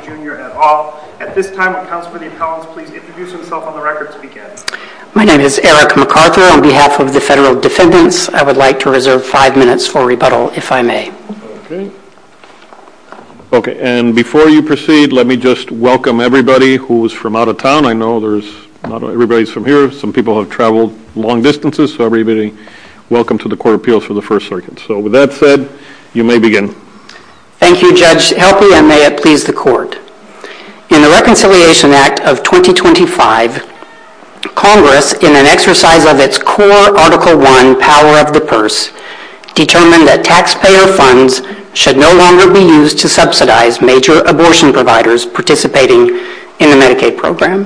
Jr. at all. At this time, would Councilman McCollum please introduce himself on the record so we can get it. My name is Eric McArthur. On behalf of the federal defendants, I would like to reserve five minutes for rebuttal, if I may. Okay, and before you proceed, let me just welcome everybody who is from out of town. I know not everybody is from here. Some people have traveled long distances. So everybody, welcome to the Court of Appeals for the First Circuit. So with that said, you may begin. Thank you, Judge. Helpfully, I may have pleased the Court. In the Reconciliation Act of 2025, Congress, in an exercise of its core Article I power of the purse, determined that taxpayer funds should no longer be used to subsidize major abortion providers participating in the Medicaid program.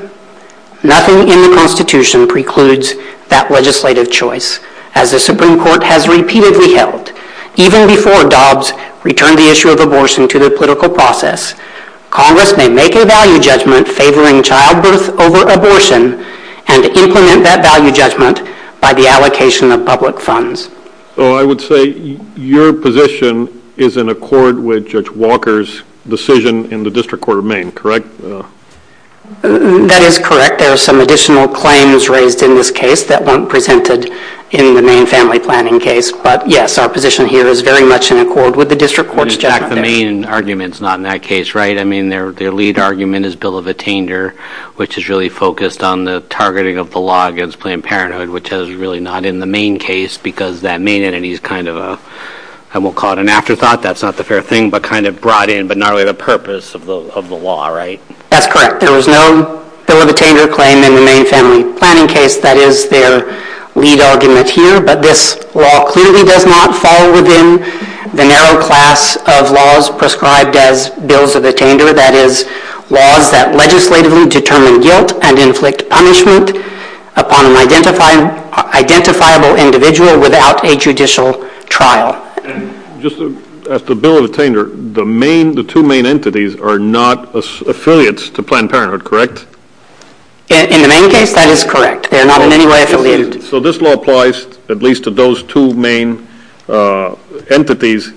Nothing in the Constitution precludes that legislative choice. As the Supreme Court has repeatedly held, even before Dobbs returned the issue of abortion to the political process, Congress may make a value judgment favoring childbirth over abortion and implement that value judgment by the allocation of public funds. So I would say your position is in accord with Judge Walker's decision in the District Court of Maine, correct? That is correct. There are some additional claims raised in this case that weren't presented in the Maine Family Planning case. But yes, our position here is very much in accord with the District Court's judgment. In fact, the Maine argument is not in that case, right? I mean, their lead argument is Bill of Attainer, which is really focused on the targeting of the law against Planned Parenthood, which is really not in the Maine case, because that Maine entity is kind of a, I won't call it an afterthought, that's not the fair thing, but kind of brought in, but not really the purpose of the law, right? That's correct. There was no Bill of Attainer claim in the Maine Family Planning case. That is their lead argument here. But this law clearly does not fall within the narrow class of laws prescribed as Bills of Attainer, that is, laws that legislatively determine guilt and inflict punishment upon an identifiable individual without a judicial trial. Just as to Bill of Attainer, the two main entities are not affiliates to Planned Parenthood, correct? In the Maine case, that is correct. They are not in any way affiliated. So this law applies at least to those two main entities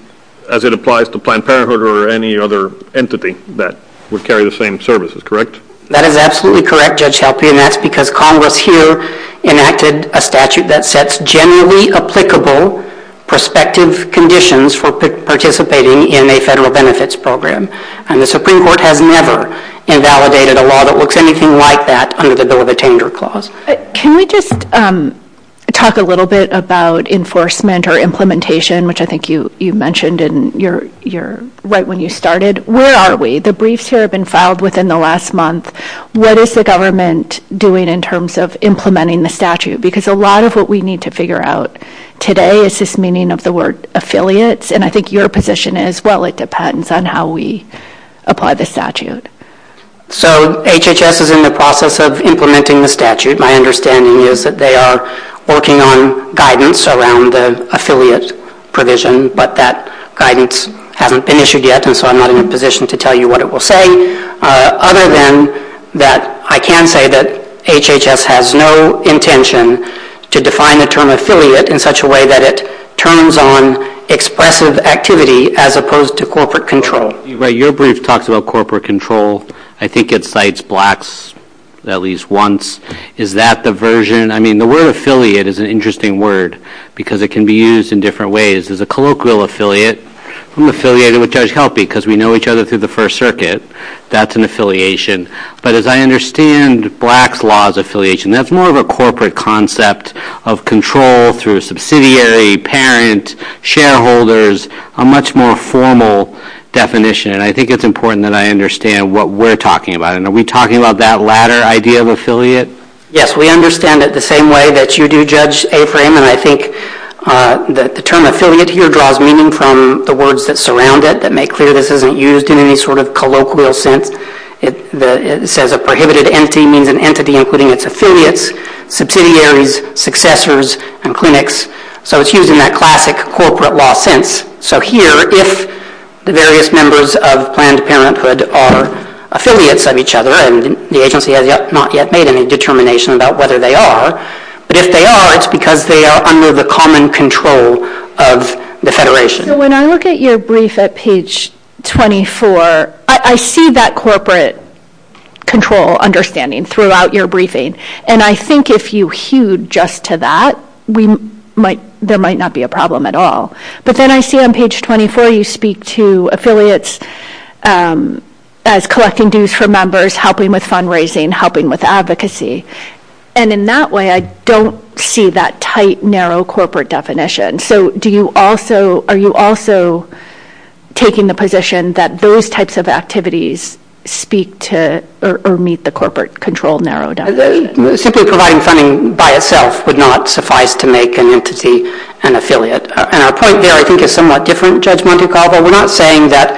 as it applies to Planned Parenthood or any other entity that would carry the same services, correct? That is absolutely correct, Judge Shelby, and that's because Congress here enacted a statute that sets generally applicable prospective conditions for participating in a federal benefits program. And the Supreme Court has never invalidated a law that works anything like that under the Bill of Attainer clause. Can we just talk a little bit about enforcement or implementation, which I think you mentioned right when you started. Where are we? The briefs here have been filed within the last month. What is the government doing in terms of implementing the statute? Because a lot of what we need to figure out today is this meaning of the word affiliates, and I think your position is, well, it depends on how we apply the statute. So HHS is in the process of implementing the statute. My understanding is that they are working on guidance around the affiliate provision, but that guidance hasn't been issued yet, and so I'm not in a position to tell you what it will say, other than that I can say that HHS has no intention to define the term affiliate in such a way that it turns on expressive activity as opposed to corporate control. Your brief talks about corporate control. I think it cites blacks at least once. Is that the version? I mean, the word affiliate is an interesting word because it can be used in different ways. There's a colloquial affiliate. I'm affiliated with Judge Helpe because we know each other through the First Circuit. That's an affiliation. But as I understand blacks' law as affiliation, that's more of a corporate concept of control through subsidiary, parent, shareholders, a much more formal definition, and I think it's important that I understand what we're talking about, and are we talking about that latter idea of affiliate? Yes, we understand it the same way that you do, Judge Avery, and I think that the term affiliate here draws meaning from the words that surround it that make clear this isn't used in any sort of colloquial sense. It says a prohibited entity means an entity including its affiliates, subsidiaries, successors, and clinics, so it's used in that classic corporate law sense. So here, if the various members of Planned Parenthood are affiliates of each other, and the agency has not yet made any determination about whether they are, but if they are, it's because they are under the common control of the Federation. So when I look at your brief at page 24, I see that corporate control understanding throughout your briefing, and I think if you hewed just to that, there might not be a problem at all. But then I see on page 24 you speak to affiliates as collecting dues from members, helping with fundraising, helping with advocacy. And in that way, I don't see that tight, narrow corporate definition. So are you also taking the position that those types of activities speak to or meet the corporate control narrow definition? Simply providing funding by itself would not suffice to make an entity an affiliate. And our point there, I think, is somewhat different, Judge Monte Carlo. We're not saying that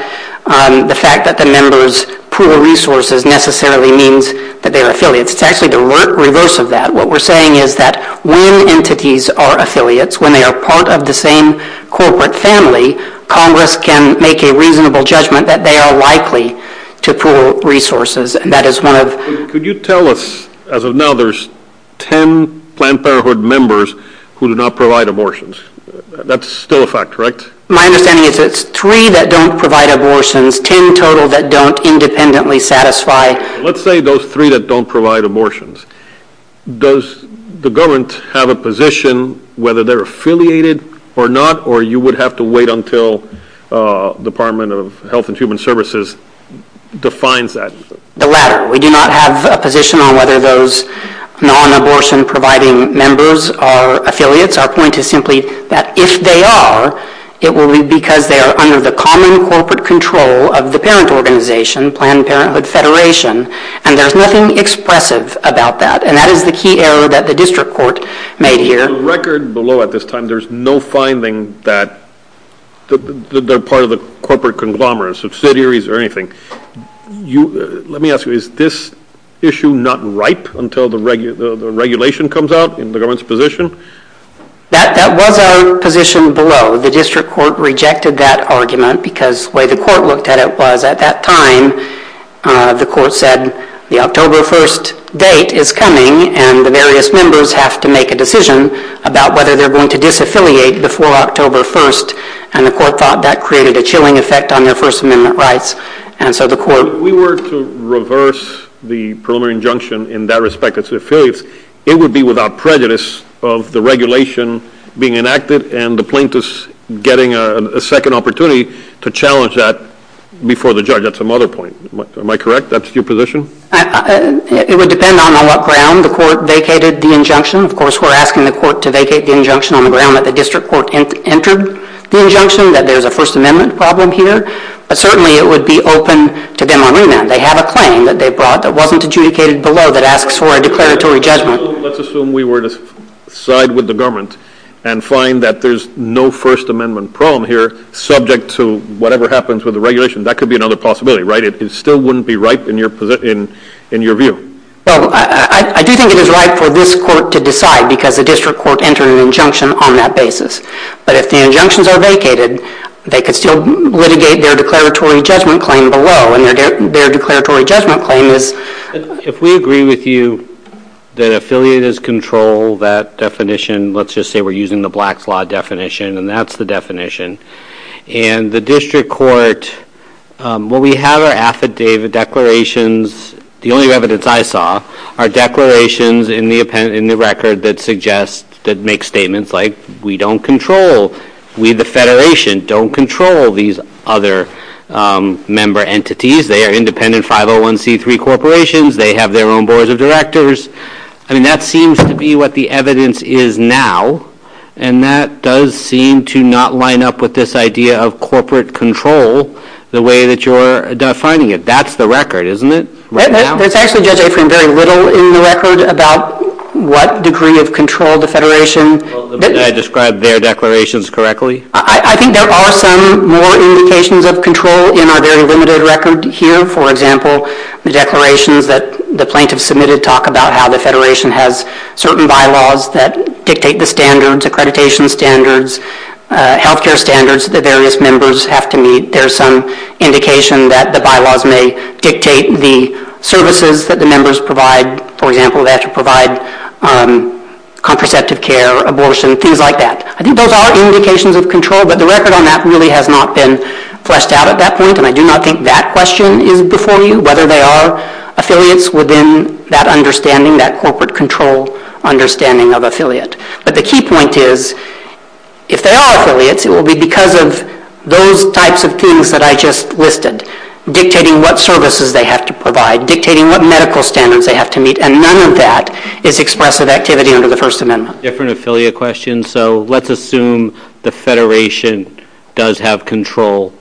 the fact that the members pool resources necessarily means that they are affiliates. It's actually the reverse of that. What we're saying is that when entities are affiliates, when they are part of the same corporate family, Congress can make a reasonable judgment that they are likely to pool resources. Could you tell us, as of now, there's ten Planned Parenthood members who do not provide abortions? That's still a fact, right? My understanding is it's three that don't provide abortions, ten total that don't independently satisfy. Let's say those three that don't provide abortions. Does the government have a position whether they're affiliated or not, or you would have to wait until the Department of Health and Human Services defines that? The latter. We do not have a position on whether those non-abortion-providing members are affiliates. Our point is simply that if they are, it will be because they are under the common corporate control of the parent organization, Planned Parenthood Federation, and there's nothing expressive about that. And that is the key error that the district court made here. On the record below at this time, there's no finding that they're part of the corporate conglomerate, subsidiaries or anything. Let me ask you, is this issue not ripe until the regulation comes out in the government's position? That was our position below. The district court rejected that argument because the way the court looked at it was at that time, the court said the October 1st date is coming and the various members have to make a decision about whether they're going to disaffiliate before October 1st. And the court thought that created a chilling effect on their First Amendment rights. And so the court- If we were to reverse the preliminary injunction in that respect as affiliates, it would be without prejudice of the regulation being enacted and the plaintiffs getting a second opportunity to challenge that before the judge at some other point. Am I correct? That's your position? It would depend on on what ground the court vacated the injunction. Of course, we're asking the court to vacate the injunction on the ground that the district court entered the injunction, that there's a First Amendment problem here. But certainly it would be open to them on remand. They have a claim that they brought that wasn't adjudicated below that asks for a declaratory judgment. Let's assume we were to side with the government and find that there's no First Amendment problem here subject to whatever happens with the regulation. That could be another possibility, right? It still wouldn't be right in your view. Well, I do think it is right for this court to decide because the district court entered an injunction on that basis. But if the injunctions are vacated, they could still litigate their declaratory judgment claim below. And their declaratory judgment claim is- If we agree with you that affiliators control that definition, let's just say we're using the Black's Law definition, and that's the definition. And the district court- Well, we have our affidavit declarations. The only evidence I saw are declarations in the record that suggest- that make statements like, we don't control- we, the Federation, don't control these other member entities. They are independent 501c3 corporations. They have their own boards of directors. I mean, that seems to be what the evidence is now. And that does seem to not line up with this idea of corporate control the way that you're defining it. That's the record, isn't it? There's actually very little in the record about what degree of control the Federation- Did I describe their declarations correctly? I think there are some more indications of control in our very limited record here. For example, the declarations that the plaintiffs submitted talk about how the Federation has certain bylaws that dictate the standards, accreditation standards, health care standards that the various members have to meet. There's some indication that the bylaws may dictate the services that the members provide. For example, they have to provide contraceptive care, abortion, things like that. I think those are indications of control, but the record on that really has not been fleshed out at that point, and I do not think that question is before you, whether they are affiliates within that understanding, that corporate control understanding of affiliate. But the key point is, if they are affiliates, it will be because of those types of things that I just listed, dictating what services they have to provide, dictating what medical standards they have to meet, and none of that is expressive activity under the First Amendment. Different affiliate questions. So let's assume the Federation does have control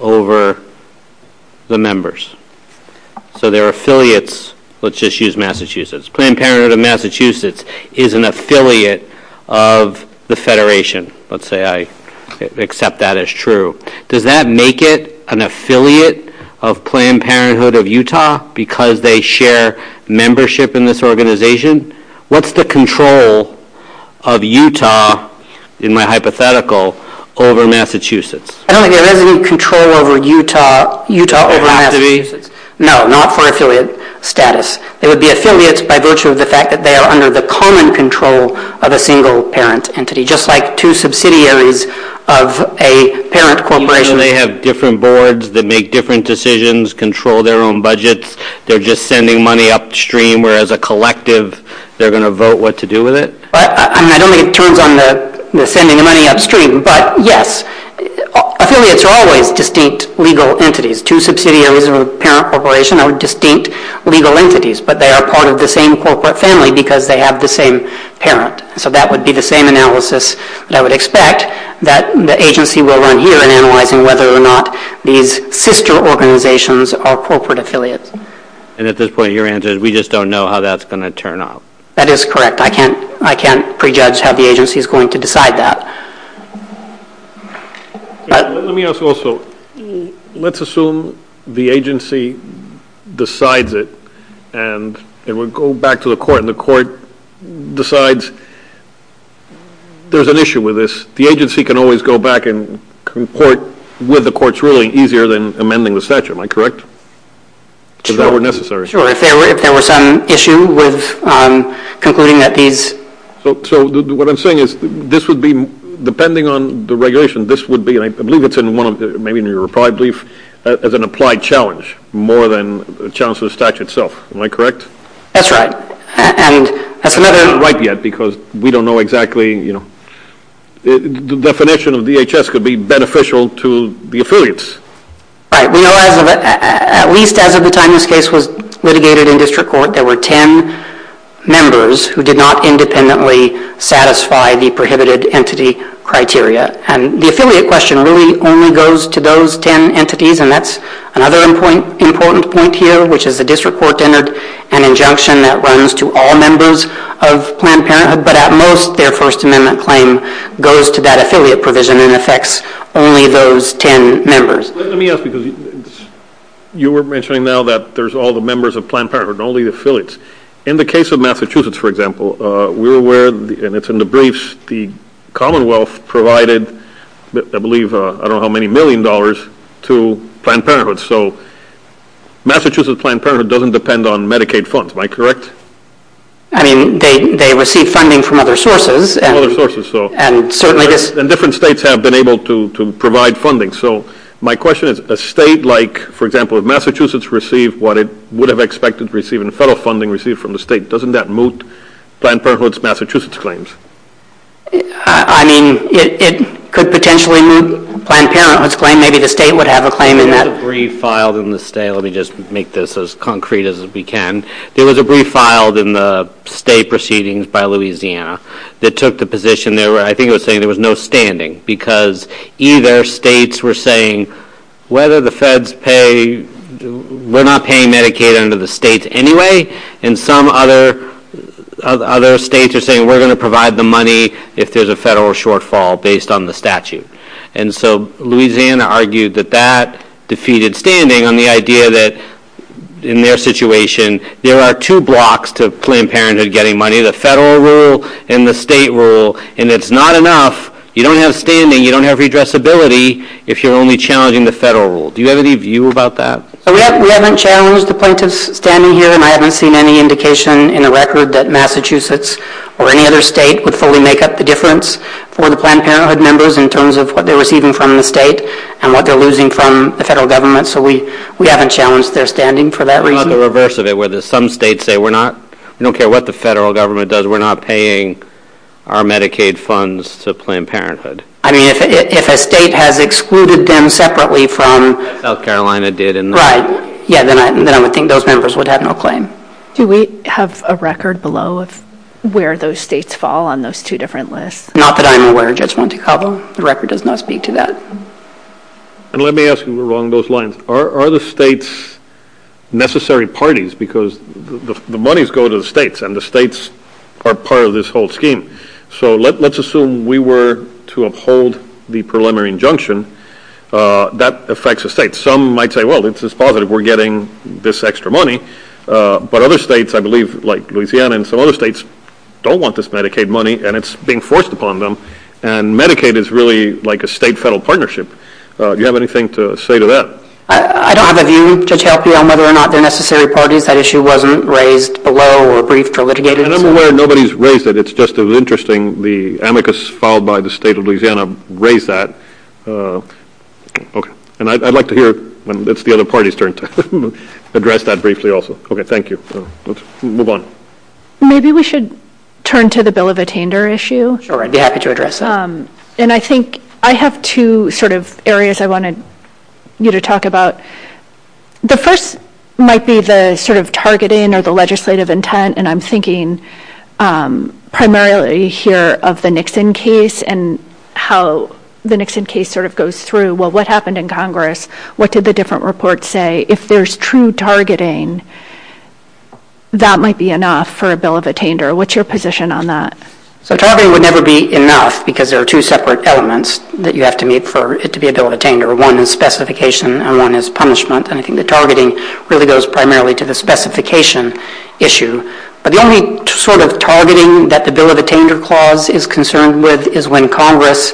over the members. So they're affiliates. Let's just use Massachusetts. Planned Parenthood of Massachusetts is an affiliate of the Federation. Let's say I accept that as true. Does that make it an affiliate of Planned Parenthood of Utah because they share membership in this organization? What's the control of Utah, in my hypothetical, over Massachusetts? I don't think there is any control over Utah over Massachusetts. No, not for affiliate status. They would be affiliates by virtue of the fact that they are under the common control of a single parent entity, just like two subsidiaries of a parent corporation. They have different boards that make different decisions, control their own budgets. They're just sending money upstream, whereas a collective, they're going to vote what to do with it? I don't think it turns on the sending the money upstream. But, yes, affiliates are always distinct legal entities. Two subsidiaries of a parent corporation are distinct legal entities, but they are part of the same corporate family because they have the same parent. So that would be the same analysis I would expect that the agency will learn here in analyzing whether or not these sister organizations are corporate affiliates. And at this point, your answer is, we just don't know how that's going to turn out. That is correct. I can't prejudge how the agency is going to decide that. Let me ask also, let's assume the agency decides it, and it would go back to the court, and the court decides there's an issue with this. The agency can always go back and court with the court's ruling easier than amending the statute. Am I correct? If that were necessary. Sure, if there were some issue with concluding that these... So what I'm saying is, this would be, depending on the regulation, this would be, I believe it's in one of the, maybe in your reply brief, as an applied challenge, more than a challenge to the statute itself. Am I correct? That's right. And that's another... I'm not quite yet because we don't know exactly, you know. The definition of DHS could be beneficial to the affiliates. Right. At least as of the time this case was litigated in district court, there were 10 members who did not independently satisfy the prohibited entity criteria. The affiliate question really only goes to those 10 entities, and that's another important point here, which is the district court entered an injunction that runs to all members of Planned Parenthood, but at most their First Amendment claim goes to that affiliate provision and affects only those 10 members. Let me ask you this. You were mentioning now that there's all the members of Planned Parenthood and all the affiliates. In the case of Massachusetts, for example, we're aware, and it's in the briefs, the Commonwealth provided, I believe, I don't know how many million dollars to Planned Parenthood. So Massachusetts Planned Parenthood doesn't depend on Medicaid funds. Am I correct? I mean, they receive funding from other sources. Other sources. And different states have been able to provide funding. So my question is, a state like, for example, if Massachusetts received what it would have expected to receive and the federal funding received from the state, doesn't that move Planned Parenthood's Massachusetts claims? I mean, it could potentially move Planned Parenthood's claim. Maybe the state would have a claim in that. There was a brief filed in the state. Let me just make this as concrete as we can. There was a brief filed in the state proceedings by Louisiana that took the position there where I think it was saying there was no standing because either states were saying whether the feds pay, we're not paying Medicaid under the state anyway, and some other states are saying we're going to provide the money if there's a federal shortfall based on the statute. And so Louisiana argued that that defeated standing on the idea that, in their situation, there are two blocks to Planned Parenthood getting money. The federal rule and the state rule. And it's not enough. You don't have standing. You don't have redressability if you're only challenging the federal rule. Do you have any view about that? We haven't challenged the point of standing here, and I haven't seen any indication in the record that Massachusetts or any other state would fully make up the difference for the Planned Parenthood members in terms of what they're receiving from the state and what they're losing from the federal government. So we haven't challenged their standing for that reason. How about the reverse of it where some states say, we don't care what the federal government does, we're not paying our Medicaid funds to Planned Parenthood? I mean, if a state has excluded them separately from... South Carolina did. Right. Yeah, then I would think those members would have no claim. Do we have a record below of where those states fall on those two different lists? Not that I'm aware of, Judge Montecalvo. The record does not speak to that. And let me ask you along those lines. Are the states necessary parties? Because the monies go to the states, and the states are part of this whole scheme. So let's assume we were to uphold the preliminary injunction. That affects the states. Some might say, well, this is positive. We're getting this extra money. But other states, I believe, like Louisiana and some other states, don't want this Medicaid money, and it's being forced upon them. And Medicaid is really like a state-federal partnership. Do you have anything to say to that? I don't have a view to check whether or not they're necessary parties. That issue wasn't raised below or briefed or litigated. And I'm aware nobody's raised it. It's just interesting the amicus filed by the state of Louisiana raised that. Okay. And I'd like to hear when it's the other party's turn to address that briefly also. Okay. Thank you. Let's move on. Maybe we should turn to the bill of attainder issue. Sure. I'd be happy to address that. And I think I have two sort of areas I wanted you to talk about. The first might be the sort of targeting or the legislative intent, and I'm thinking primarily here of the Nixon case and how the Nixon case sort of goes through. Well, what happened in Congress? What did the different reports say? If there's true targeting, that might be enough for a bill of attainder. What's your position on that? So targeting would never be enough because there are two separate elements that you have to meet for it to be a bill of attainder. One is specification and one is punishment. I think the targeting really goes primarily to the specification issue. But the only sort of targeting that the bill of attainder clause is concerned with is when Congress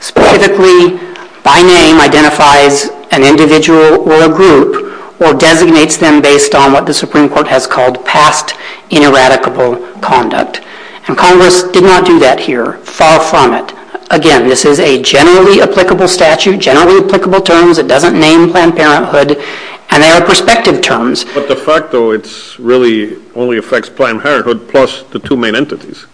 specifically by name identifies an individual or a group or designates them based on what the Supreme Court has called past ineradicable conduct. And Congress did not do that here. Far from it. Again, this is a generally applicable statute, generally applicable terms. It doesn't name Planned Parenthood. And there are prospective terms. But the fact, though, it really only affects Planned Parenthood plus the two main entities.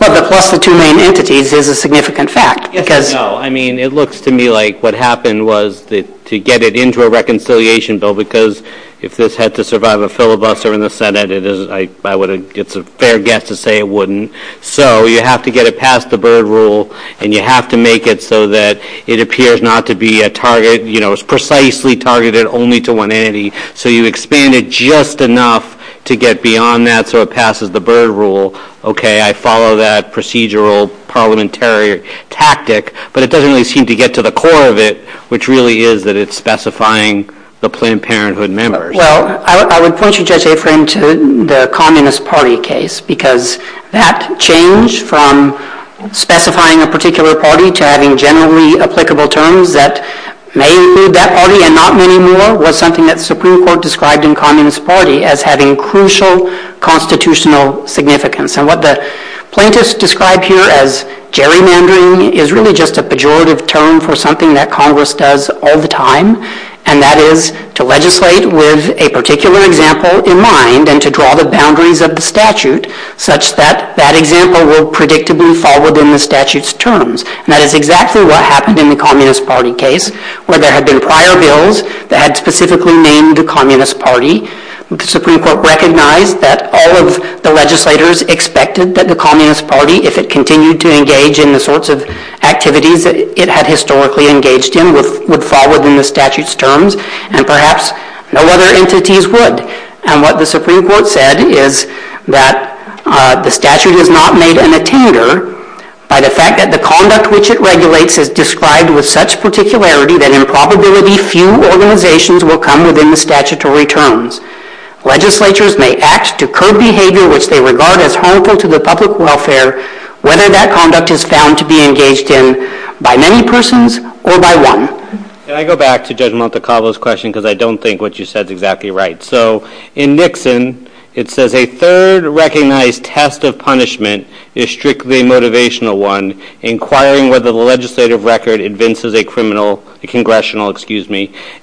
Well, the plus the two main entities is a significant fact. No, I mean, it looks to me like what happened was to get it into a reconciliation bill because if this had to survive a filibuster in the Senate, it's a fair guess to say it wouldn't. So you have to get it past the Byrd Rule and you have to make it so that it appears not to be a target, you know, it's precisely targeted only to one entity. So you expand it just enough to get beyond that so it passes the Byrd Rule. Okay, I follow that procedural, parliamentary tactic, but it doesn't really seem to get to the core of it, which really is that it's specifying the Planned Parenthood members. Well, I would point you just a frame to the Communist Party case because that change from specifying a particular party to having generally applicable terms that may include that party and not many more was something that the Supreme Court described in Communist Party as having crucial constitutional significance. And what the plaintiffs described here as gerrymandering is really just a pejorative term for something that Congress does all the time, and that is to legislate with a particular example in mind and to draw the boundaries of the statute such that that example will predictably fall within the statute's terms. And that is exactly what happened in the Communist Party case where there had been prior bills that had specifically named the Communist Party. The Supreme Court recognized that all of the legislators expected that the Communist Party, if it continued to engage in the sorts of activities that it had historically engaged in, would fall within the statute's terms, and perhaps no other entities would. And what the Supreme Court said is that the statute was not made an attender by the fact that the conduct which it regulates is described with such particularity that in probability few organizations will come within the statutory terms. Legislators may act to curb behavior which they regard as harmful to the public welfare whether that conduct is found to be engaged in by many persons or by one. Can I go back to Judge Montecalvo's question because I don't think what she said is exactly right. So in Nixon it says a third recognized test of punishment is strictly a motivational one, inquiring whether the legislative record convinces a congressional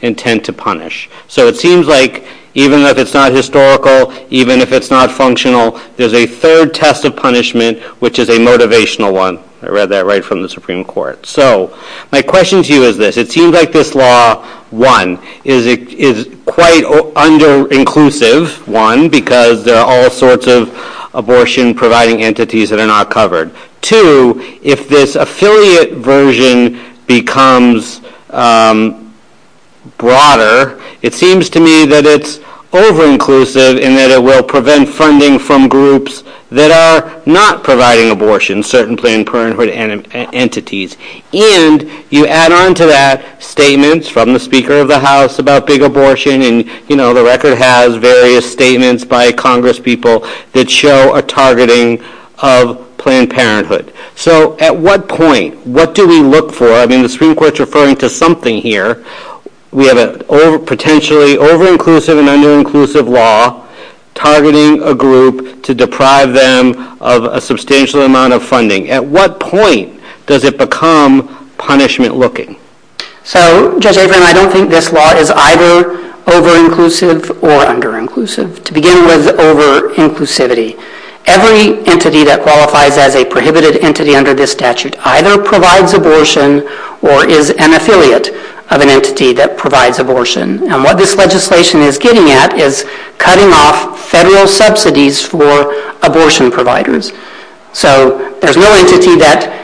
intent to punish. So it seems like even if it's not historical, even if it's not functional, there's a third test of punishment which is a motivational one. I read that right from the Supreme Court. So my question to you is this. It seems like this law, one, is quite under-inclusive, one, because there are all sorts of abortion-providing entities that are not covered. Two, if this affiliate version becomes broader, it seems to me that it's over-inclusive and that it will prevent funding from groups that are not providing abortion, certainly in parenthood entities. And you add on to that statements from the Speaker of the House about big abortion, and, you know, the record has various statements by congresspeople that show a targeting of Planned Parenthood. So at what point, what do we look for? I mean, the Supreme Court is referring to something here. We have a potentially over-inclusive and under-inclusive law targeting a group to deprive them of a substantial amount of funding. At what point does it become punishment-looking? So, Judge Abram, I don't think this law is either over-inclusive or under-inclusive. To begin with, over-inclusivity. Every entity that qualifies as a prohibited entity under this statute either provides abortion or is an affiliate of an entity that provides abortion. And what this legislation is getting at is cutting off federal subsidies for abortion providers. So there's no agency that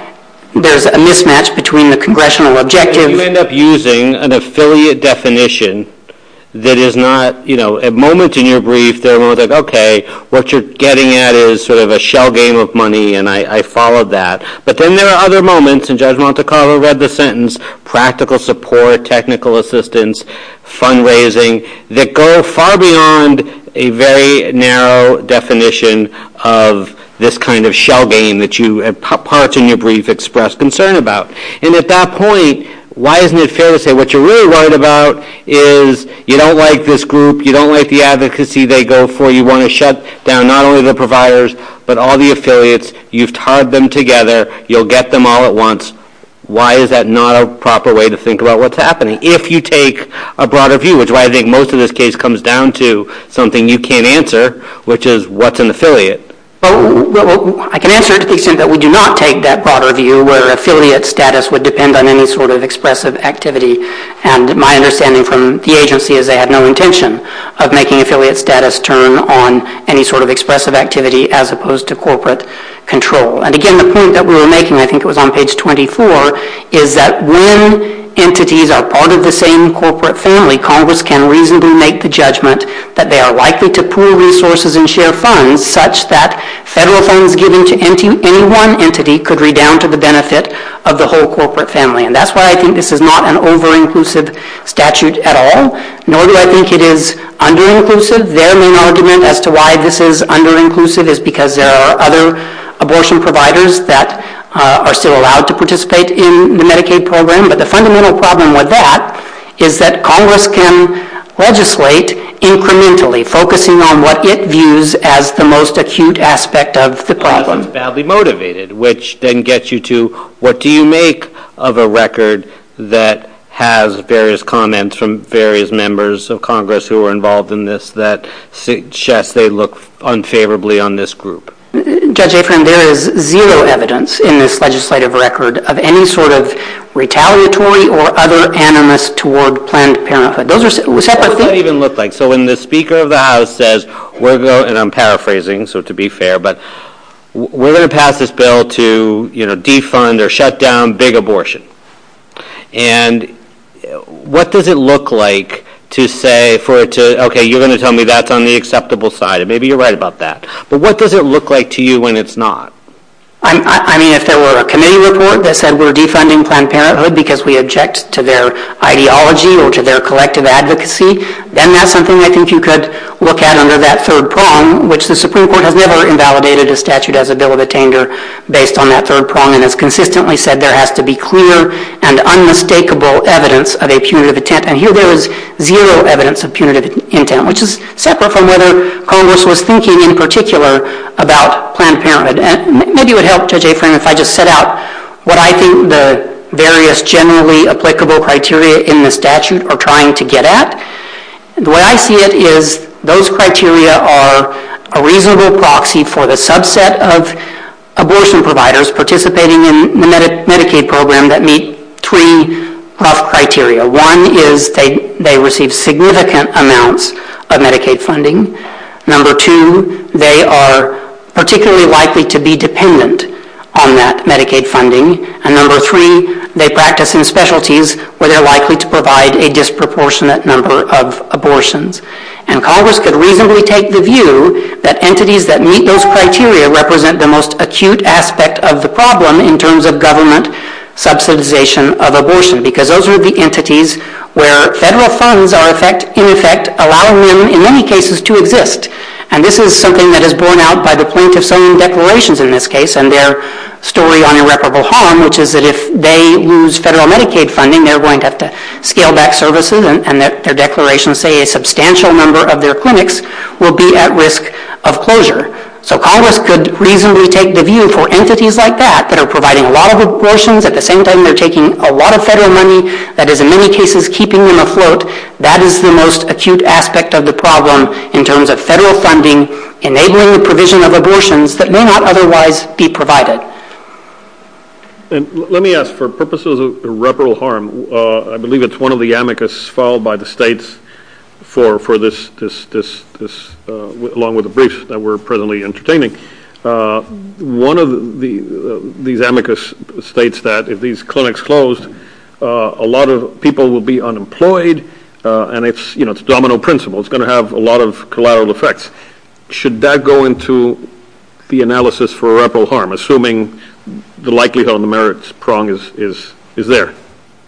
there's a mismatch between the congressional objectives. You end up using an affiliate definition that is not, you know, at moments in your brief they're more like, okay, what you're getting at is sort of a shell game of money, and I followed that. But then there are other moments, and Judge Montecarlo read the sentence, practical support, technical assistance, fundraising, that go far beyond a very narrow definition of this kind of shell game that you part in your brief express concern about. And at that point, why isn't it fair to say what you're really right about is you don't like this group, you don't like the advocacy they go for, you want to shut down not only the providers but all the affiliates, you've tied them together, you'll get them all at once. Why is that not a proper way to think about what's happening? If you take a broader view, which is why I think most of this case comes down to something you can't answer, which is what's an affiliate? Well, I can answer it to the extent that we do not take that broader view where affiliate status would depend on any sort of expressive activity. And my understanding from the agency is they had no intention of making affiliate status turn on any sort of expressive activity as opposed to corporate control. And again, the point that we were making, I think it was on page 24, is that when entities are part of the same corporate family, Congress can reasonably make the judgment that they are likely to pool resources and share funds such that federal funds given to any one entity could redound to the benefit of the whole corporate family. And that's why I think this is not an over-inclusive statute at all, nor do I think it is under-inclusive. Their main argument as to why this is under-inclusive is because there are other abortion providers that are still allowed to participate in the Medicaid program. But the fundamental problem with that is that Congress can legislate incrementally, focusing on what it views as the most acute aspect of the problem. That's badly motivated, which then gets you to what do you make of a record that has various comments from various members of Congress who are involved in this that suggest they look unfavorably on this group. Judge Afrin, there is zero evidence in this legislative record of any sort of retaliatory or other animus toward Planned Parenthood. What does that even look like? So when the Speaker of the House says, and I'm paraphrasing, so to be fair, but we're going to pass this bill to defund or shut down big abortion. And what does it look like to say, okay, you're going to tell me that's on the acceptable side, and maybe you're right about that. But what does it look like to you when it's not? I mean, if there were a committee report that said we're defunding Planned Parenthood because we object to their ideology or to their collective advocacy, then that's something I think you could look at under that third prong, which the Supreme Court has never invalidated a statute as a bill of attainder based on that third prong and has consistently said there has to be clear and unmistakable evidence of a punitive intent. And here there is zero evidence of punitive intent, which is separate from whether Congress was thinking in particular about Planned Parenthood. And maybe it would help, Judge Afrin, if I just set out what I think the various generally applicable criteria in this statute are trying to get at. What I see is those criteria are a reasonable proxy for the subset of abortion providers participating in the Medicaid program that meet three criteria. One is they receive significant amounts of Medicaid funding. Number two, they are particularly likely to be dependent on that Medicaid funding. And number three, they practice in specialties where they're likely to provide a disproportionate number of abortions. And Congress could reasonably take the view that entities that meet those criteria represent the most acute aspect of the problem in terms of government subsidization of abortion because those are the entities where federal funds are in effect allowing them, in many cases, to exist. And this is something that is borne out by the Planned Parenthood declarations in this case and their story on irreparable harm, which is that if they use federal Medicaid funding, they're going to have to scale back services and that their declarations say a substantial number of their clinics will be at risk of closure. So Congress could reasonably take the view for entities like that that are providing a lot of abortions. At the same time, they're taking a lot of federal money that is, in many cases, keeping them afloat. That is the most acute aspect of the problem in terms of federal funding, enabling the provision of abortions that may not otherwise be provided. And let me ask, for purposes of irreparable harm, I believe it's one of the amicus filed by the states for this, along with the briefs that we're presently entertaining. One of these amicus states that if these clinics close, a lot of people will be unemployed, and it's domino principle. It's going to have a lot of collateral effects. Should that go into the analysis for irreparable harm, assuming the likelihood on the merits prong is there?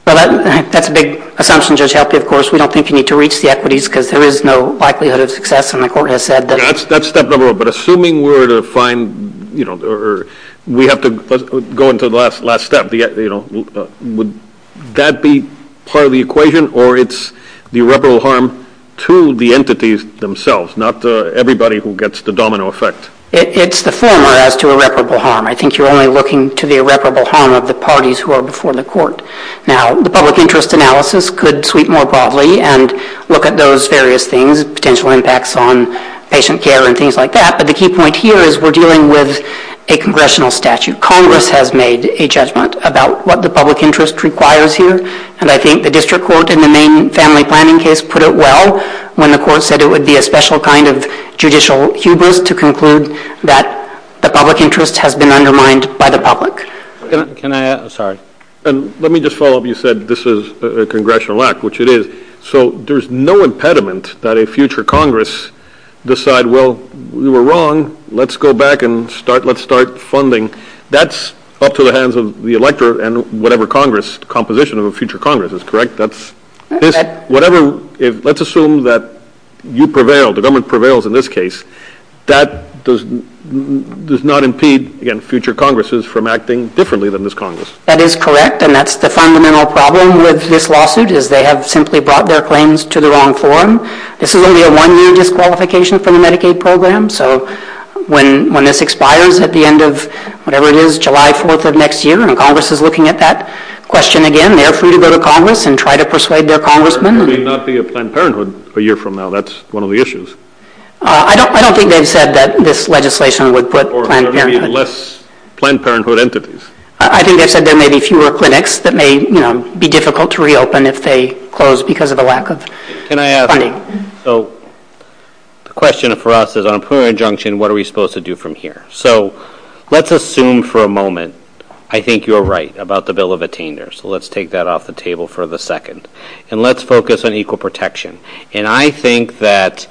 That's a big assumption. Of course, we don't think you need to reach the equities because there is no likelihood of success. That's step number one. But assuming we have to go into the last step, would that be part of the equation, or it's the irreparable harm to the entities themselves, not everybody who gets the domino effect? It's the former as to irreparable harm. I think you're only looking to the irreparable harm of the parties who are before the court. Now, the public interest analysis could sweep more broadly and look at those various things, potential impacts on patient care and things like that. But the key point here is we're dealing with a congressional statute. Congress has made a judgment about what the public interest requires here, and I think the district court in the main family planning case put it well when the court said it would be a special kind of judicial hubris to conclude that the public interest has been undermined by the public. Let me just follow up. You said this is a congressional act, which it is. So there's no impediment that a future Congress decides, well, we were wrong, let's go back and let's start funding. That's up to the hands of the electorate and whatever composition of a future Congress is, correct? Let's assume that you prevail, the government prevails in this case. That does not impede future Congresses from acting differently than this Congress. That is correct, and that's the fundamental problem with this lawsuit is they have simply brought their claims to the wrong forum. This is only a one-year disqualification from the Medicaid program, so when this expires at the end of whatever it is, July 4th of next year, and Congress is looking at that question again, they're free to go to Congress and try to persuade their congressmen. There may not be a Planned Parenthood a year from now. That's one of the issues. I don't think they've said that this legislation would put Planned Parenthood. Or have any less Planned Parenthood entities. I think they said there may be fewer clinics that may be difficult to reopen if they close because of the lack of funding. The question for us is on a plural injunction, what are we supposed to do from here? Let's assume for a moment I think you're right about the bill of attainders. Let's take that off the table for a second, and let's focus on equal protection. I think that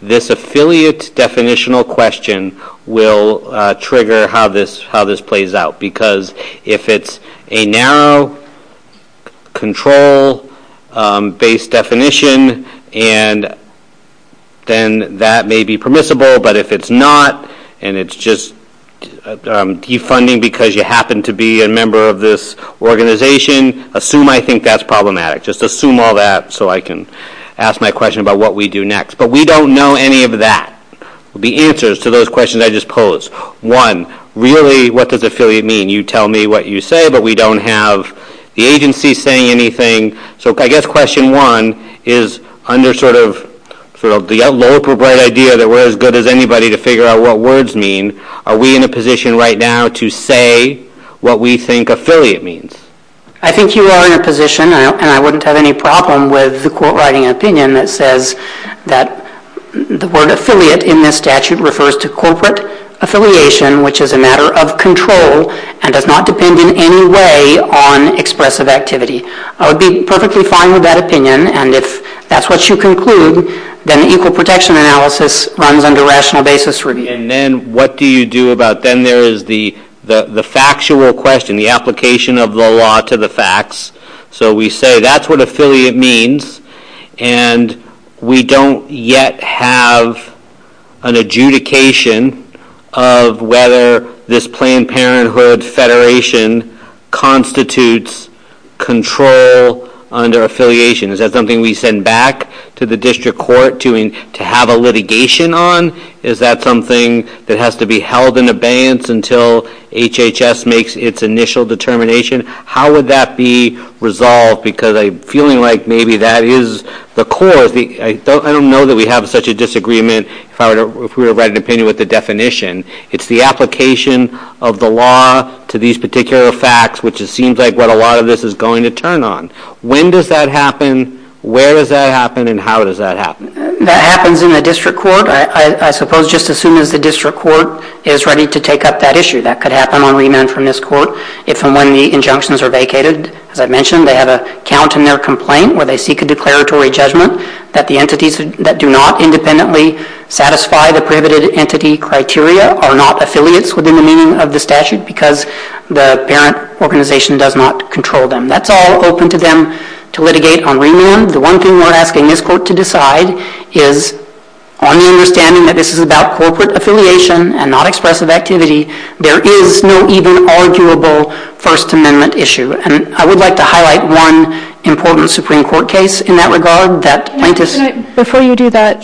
this affiliate definitional question will trigger how this plays out. Because if it's a narrow control-based definition, then that may be permissible. But if it's not, and it's just defunding because you happen to be a member of this organization, assume I think that's problematic. Just assume all that so I can ask my question about what we do next. But we don't know any of that. The answers to those questions I just posed. One, really what does affiliate mean? You tell me what you say, but we don't have the agency saying anything. So I guess question one is under sort of the low-profile idea that we're as good as anybody to figure out what words mean, are we in a position right now to say what we think affiliate means? I think you are in a position, and I wouldn't have any problem with the court-writing opinion that says that the word affiliate in this statute refers to corporate affiliation, which is a matter of control, and does not depend in any way on expressive activity. I would be perfectly fine with that opinion, and if that's what you conclude, then the equal protection analysis runs under rational basis review. And then what do you do about then there is the factual question, the application of the law to the facts. So we say that's what affiliate means, and we don't yet have an adjudication of whether this Planned Parenthood Federation constitutes control under affiliation. Is that something we send back to the district court to have a litigation on? Is that something that has to be held in abeyance until HHS makes its initial determination? How would that be resolved? Because I'm feeling like maybe that is the core. I don't know that we have such a disagreement if we were to write an opinion with the definition. It's the application of the law to these particular facts, which it seems like what a lot of this is going to turn on. When does that happen, where does that happen, and how does that happen? That happens in the district court. I suppose just as soon as the district court is ready to take up that issue. That could happen on remand from this court if and when the injunctions are vacated. As I mentioned, they have a count in their complaint where they seek a declaratory judgment that the entities that do not independently satisfy the prohibited entity criteria are not affiliates within the meaning of the statute because the parent organization does not control them. That's all open to them to litigate on remand. The one thing we're asking this court to decide is on the understanding that this is about corporate affiliation and not expressive activity, there is no even arguable First Amendment issue. I would like to highlight one important Supreme Court case in that regard. Before you do that,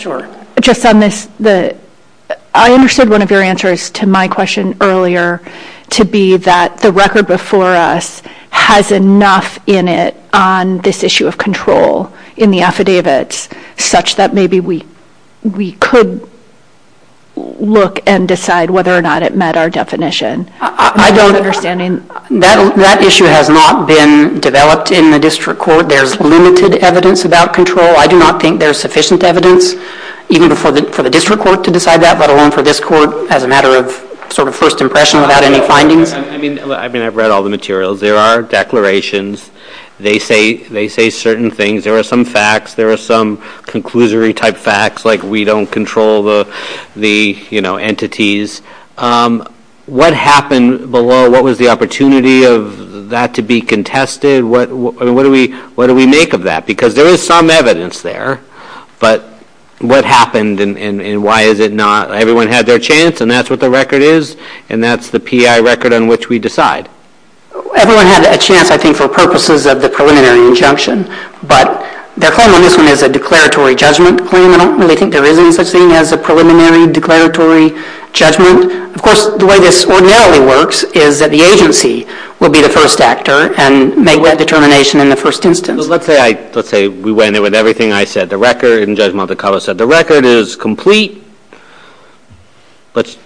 I understood one of your answers to my question earlier to be that the record before us has enough in it on this issue of control in the affidavits such that maybe we could look and decide whether or not it met our definition. I don't understand. That issue has not been developed in the district court. There's limited evidence about control. I do not think there's sufficient evidence even for the district court to decide that, let alone for this court as a matter of sort of first impression without any findings. I've read all the materials. There are declarations. They say certain things. There are some facts. There are some conclusory type facts like we don't control the entities. What happened below? What was the opportunity of that to be contested? What do we make of that? Because there is some evidence there, but what happened and why is it not? Everyone had their chance, and that's what the record is, and that's the P.I. record on which we decide. Everyone had a chance, I think, for purposes of the preliminary injunction, but they're calling this one as a declaratory judgment. They think there is such a thing as a preliminary declaratory judgment. Of course, the way this ordinarily works is that the agency will be the first actor and make that determination in the first instance. Let's say we went in with everything I said. The record is complete.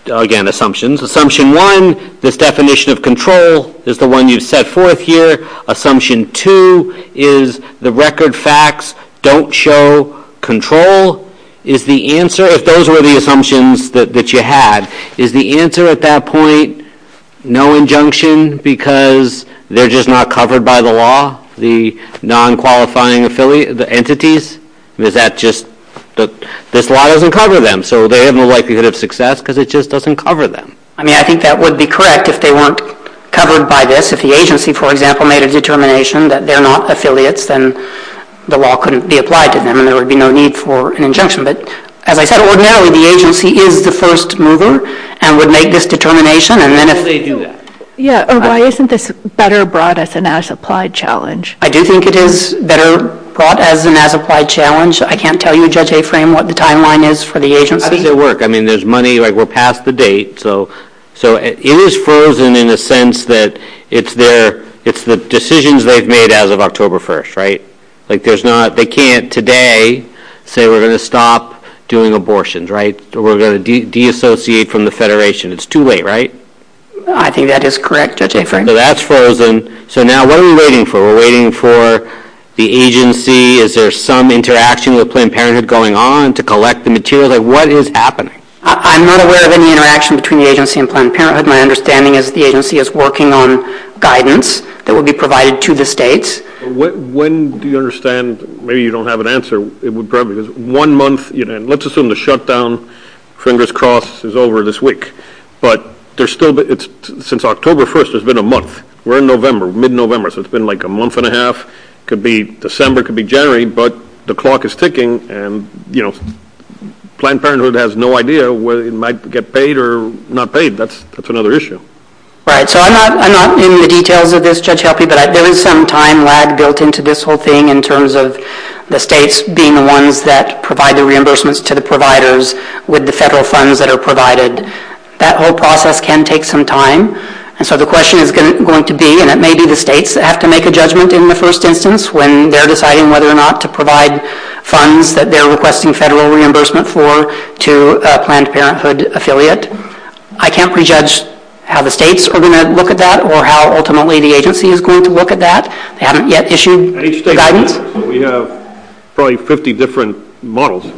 Again, assumptions. Assumption one, this definition of control is the one you set forth here. Assumption two is the record facts don't show control. If those were the assumptions that you had, is the answer at that point no injunction because they're just not covered by the law, the non-qualifying entities? This law doesn't cover them, so they have no likelihood of success because it just doesn't cover them. I think that would be correct if they weren't covered by this. If the agency, for example, made a determination that they're not affiliates and the law couldn't be applied to them and there would be no need for an injunction. As I said, ordinarily the agency is the first mover and would make this determination. Why isn't this better brought as an as-applied challenge? I do think it is better brought as an as-applied challenge. I can't tell you, Judge Aframe, what the timeline is for the agency. I think they work. There's money. We're past the date. It is frozen in the sense that it's the decisions they've made as of October 1st. They can't today say we're going to stop doing abortions or we're going to de-associate from the Federation. It's too late, right? I think that is correct, Judge Aframe. That's frozen. So now what are we waiting for? We're waiting for the agency. Is there some interaction with Planned Parenthood going on to collect the materials? What is happening? I'm not aware of any interaction between the agency and Planned Parenthood. My understanding is that the agency is working on guidance that will be provided to the states. When do you understand, maybe you don't have an answer, but let's assume the shutdown, fingers crossed, is over this week. Since October 1st, it's been a month. We're in mid-November, so it's been like a month and a half. December could be January, but the clock is ticking. Planned Parenthood has no idea whether it might get paid or not paid. That's another issue. I'm not in the details of this, Judge Huffey, but there is some time lag built into this whole thing in terms of the states being the ones that provide the reimbursements to the providers with the federal funds that are provided. That whole process can take some time, and so the question is going to be, and it may be the states that have to make a judgment in the first instance when they're deciding whether or not to provide funds that they're requesting federal reimbursement for to a Planned Parenthood affiliate. I can't prejudge how the states are going to look at that or how ultimately the agency is going to look at that. They haven't yet issued guidance. We have probably 50 different models.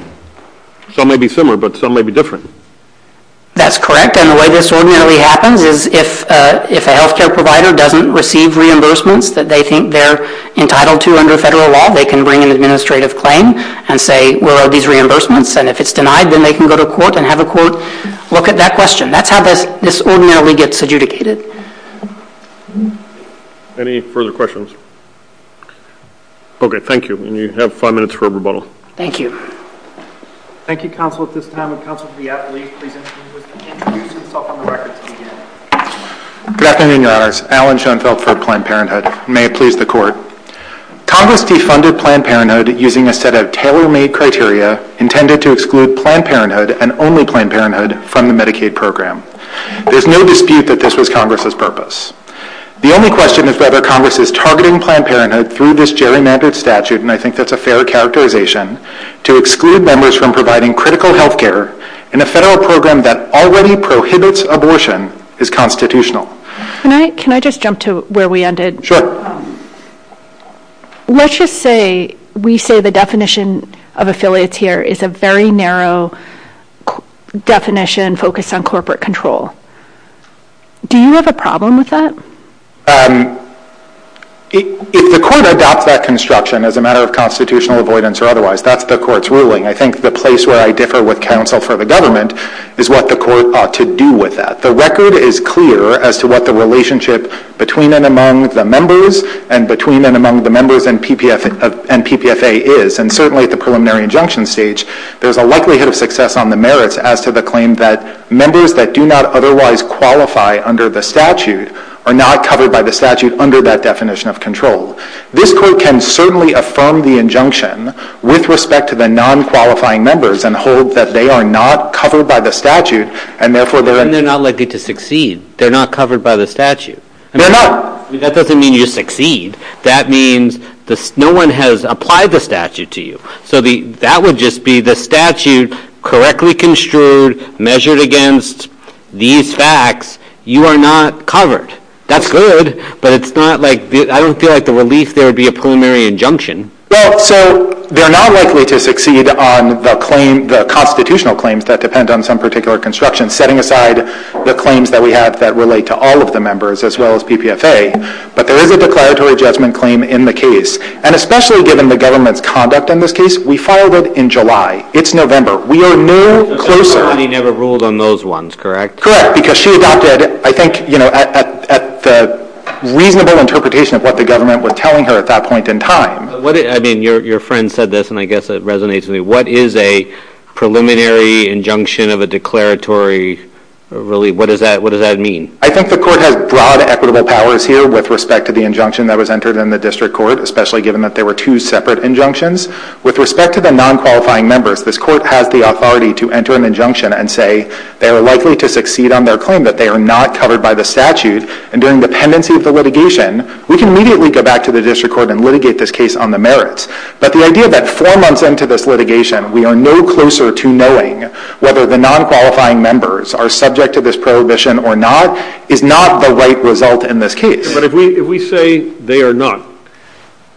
Some may be similar, but some may be different. That's correct, and the way this ordinarily happens is if a health care provider doesn't receive reimbursements that they think they're entitled to under federal law, they can bring an administrative claim and say, where are these reimbursements? And if it's denied, then they can go to court and have a court look at that question. That's how this ordinarily gets adjudicated. Any further questions? Okay, thank you, and you have five minutes for rebuttal. Thank you. Thank you, counsel, at this time. Counsel to the athlete. Good afternoon to all. Alan Schoenfeld for Planned Parenthood. May it please the court. Congress defunded Planned Parenthood using a set of tailor-made criteria intended to exclude Planned Parenthood and only Planned Parenthood from the Medicaid program. There's no dispute that this was Congress's purpose. The only question is whether Congress's targeting Planned Parenthood through this gerrymandered statute, and I think that's a fair characterization, to exclude members from providing critical health care in a federal program that already prohibits abortion is constitutional. Can I just jump to where we ended? Let's just say we say the definition of affiliates here is a very narrow definition focused on corporate control. Do you have a problem with that? If the court adopts that construction as a matter of constitutional avoidance or otherwise, that's the court's ruling. I think the place where I differ with counsel for the government is what the court ought to do with that. The record is clear as to what the relationship between and among the members and between and among the members and PPFA is, and certainly at the preliminary injunction stage, there's a likelihood of success on the merits as to the claim that members that do not otherwise qualify under the statute are not covered by the statute under that definition of control. This court can certainly affirm the injunction with respect to the non-qualifying members and hold that they are not covered by the statute and therefore they're not likely to succeed. They're not covered by the statute. That doesn't mean you succeed. That means no one has applied the statute to you. So that would just be the statute correctly construed, measured against these facts. You are not covered. That's good, but I don't feel like the release there would be a preliminary injunction. Well, so they're not likely to succeed on the constitutional claims that depend on some particular construction, setting aside the claims that we have that relate to all of the members as well as PPFA, but there is a declaratory judgment claim in the case. And especially given the government's conduct in this case, we filed it in July. It's November. We are no closer. The court never ruled on those ones, correct? Correct, because she adopted, I think, at the reasonable interpretation of what the government was telling her at that point in time. I mean, your friend said this, and I guess it resonates with me. What is a preliminary injunction of a declaratory release? What does that mean? I think the court has broad equitable powers here with respect to the injunction that was entered in the district court, especially given that there were two separate injunctions. With respect to the non-qualifying members, this court has the authority to enter an injunction and say they are likely to succeed on their claim, that they are not covered by the statute. And during the pendency of the litigation, we can immediately go back to the district court and litigate this case on the merits. But the idea that four months into this litigation, we are no closer to knowing whether the non-qualifying members are subject to this prohibition or not is not the right result in this case. But if we say they are not,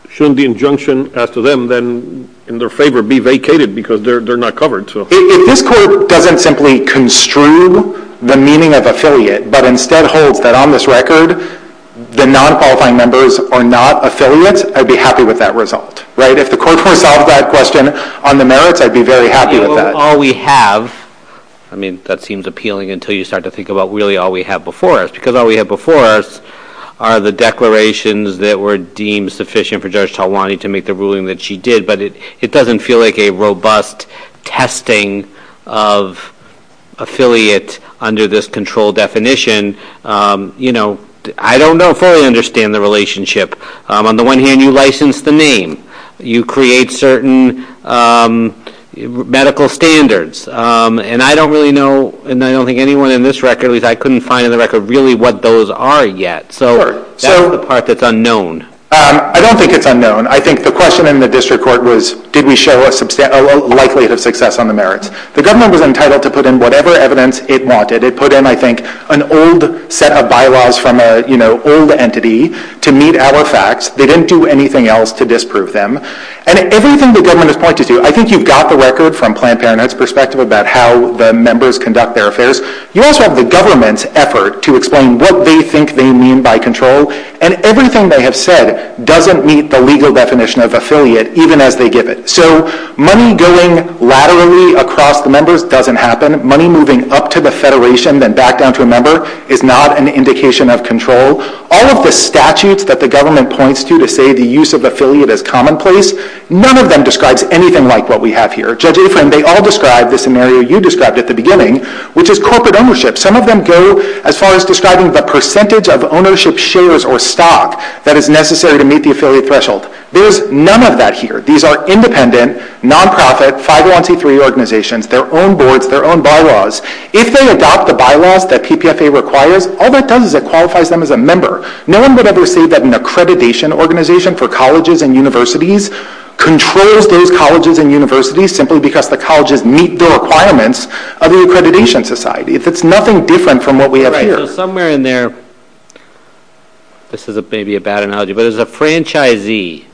shouldn't the injunction as to them then, in their favor, be vacated because they're not covered? This court doesn't simply construe the meaning of affiliate, but instead holds that on this record, the non-qualifying members are not affiliate. I'd be happy with that result. If the court turns off that question on the merits, I'd be very happy with that. All we have, I mean, that seems appealing until you start to think about really all we have before us, because all we have before us are the declarations that were deemed sufficient for Judge Talwani to make the ruling that she did, but it doesn't feel like a robust testing of affiliate under this control definition. You know, I don't know if I understand the relationship. On the one hand, you license the name. You create certain medical standards. And I don't really know, and I don't think anyone in this record, at least I couldn't find in the record really what those are yet. So that's the part that's unknown. I don't think it's unknown. I think the question in the district court was did we show a likelihood of success on the merits. The government was entitled to put in whatever evidence it wanted. It put in, I think, an old set of bylaws from an old entity to meet our facts. They didn't do anything else to disprove them. And everything the government is trying to do, I think you've got the record from Planned Parenthood's perspective about how the members conduct their affairs. You also have the government's effort to explain what they think they mean by control, and everything they have said doesn't meet the legal definition of affiliate even as they give it. So money going laterally across members doesn't happen. Money moving up to the federation and back down to a member is not an indication of control. All of the statutes that the government points to to say the use of affiliate is commonplace, none of them describes anything like what we have here. Judge Afrin, they all describe the scenario you described at the beginning, which is corporate ownership. Some of them go as far as describing the percentage of ownership shares or stock that is necessary to meet the affiliate threshold. There is none of that here. These are independent, nonprofit, 501c3 organizations, their own boards, their own bylaws. If they adopt the bylaws that PPFA requires, all that does is it qualifies them as a member. No one would ever say that an accreditation organization for colleges and universities controls those colleges and universities simply because the colleges meet the requirements of the accreditation society. It's nothing different from what we have here. Somewhere in there, this may be a bad analogy, but as a franchisee,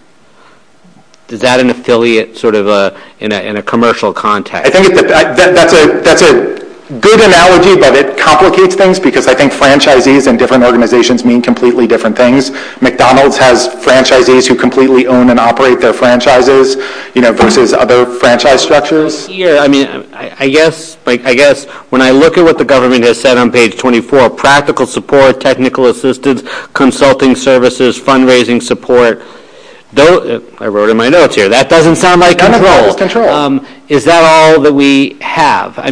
is that an affiliate in a commercial context? That's a good analogy, but it complicates things because I think franchisees and different organizations mean completely different things. McDonald's has franchisees who completely own and operate their franchises versus other franchise structures. I guess when I look at what the government has said on page 24, practical support, technical assistance, consulting services, fundraising support, I wrote in my notes here, that doesn't sound like control. Is that all that we have? I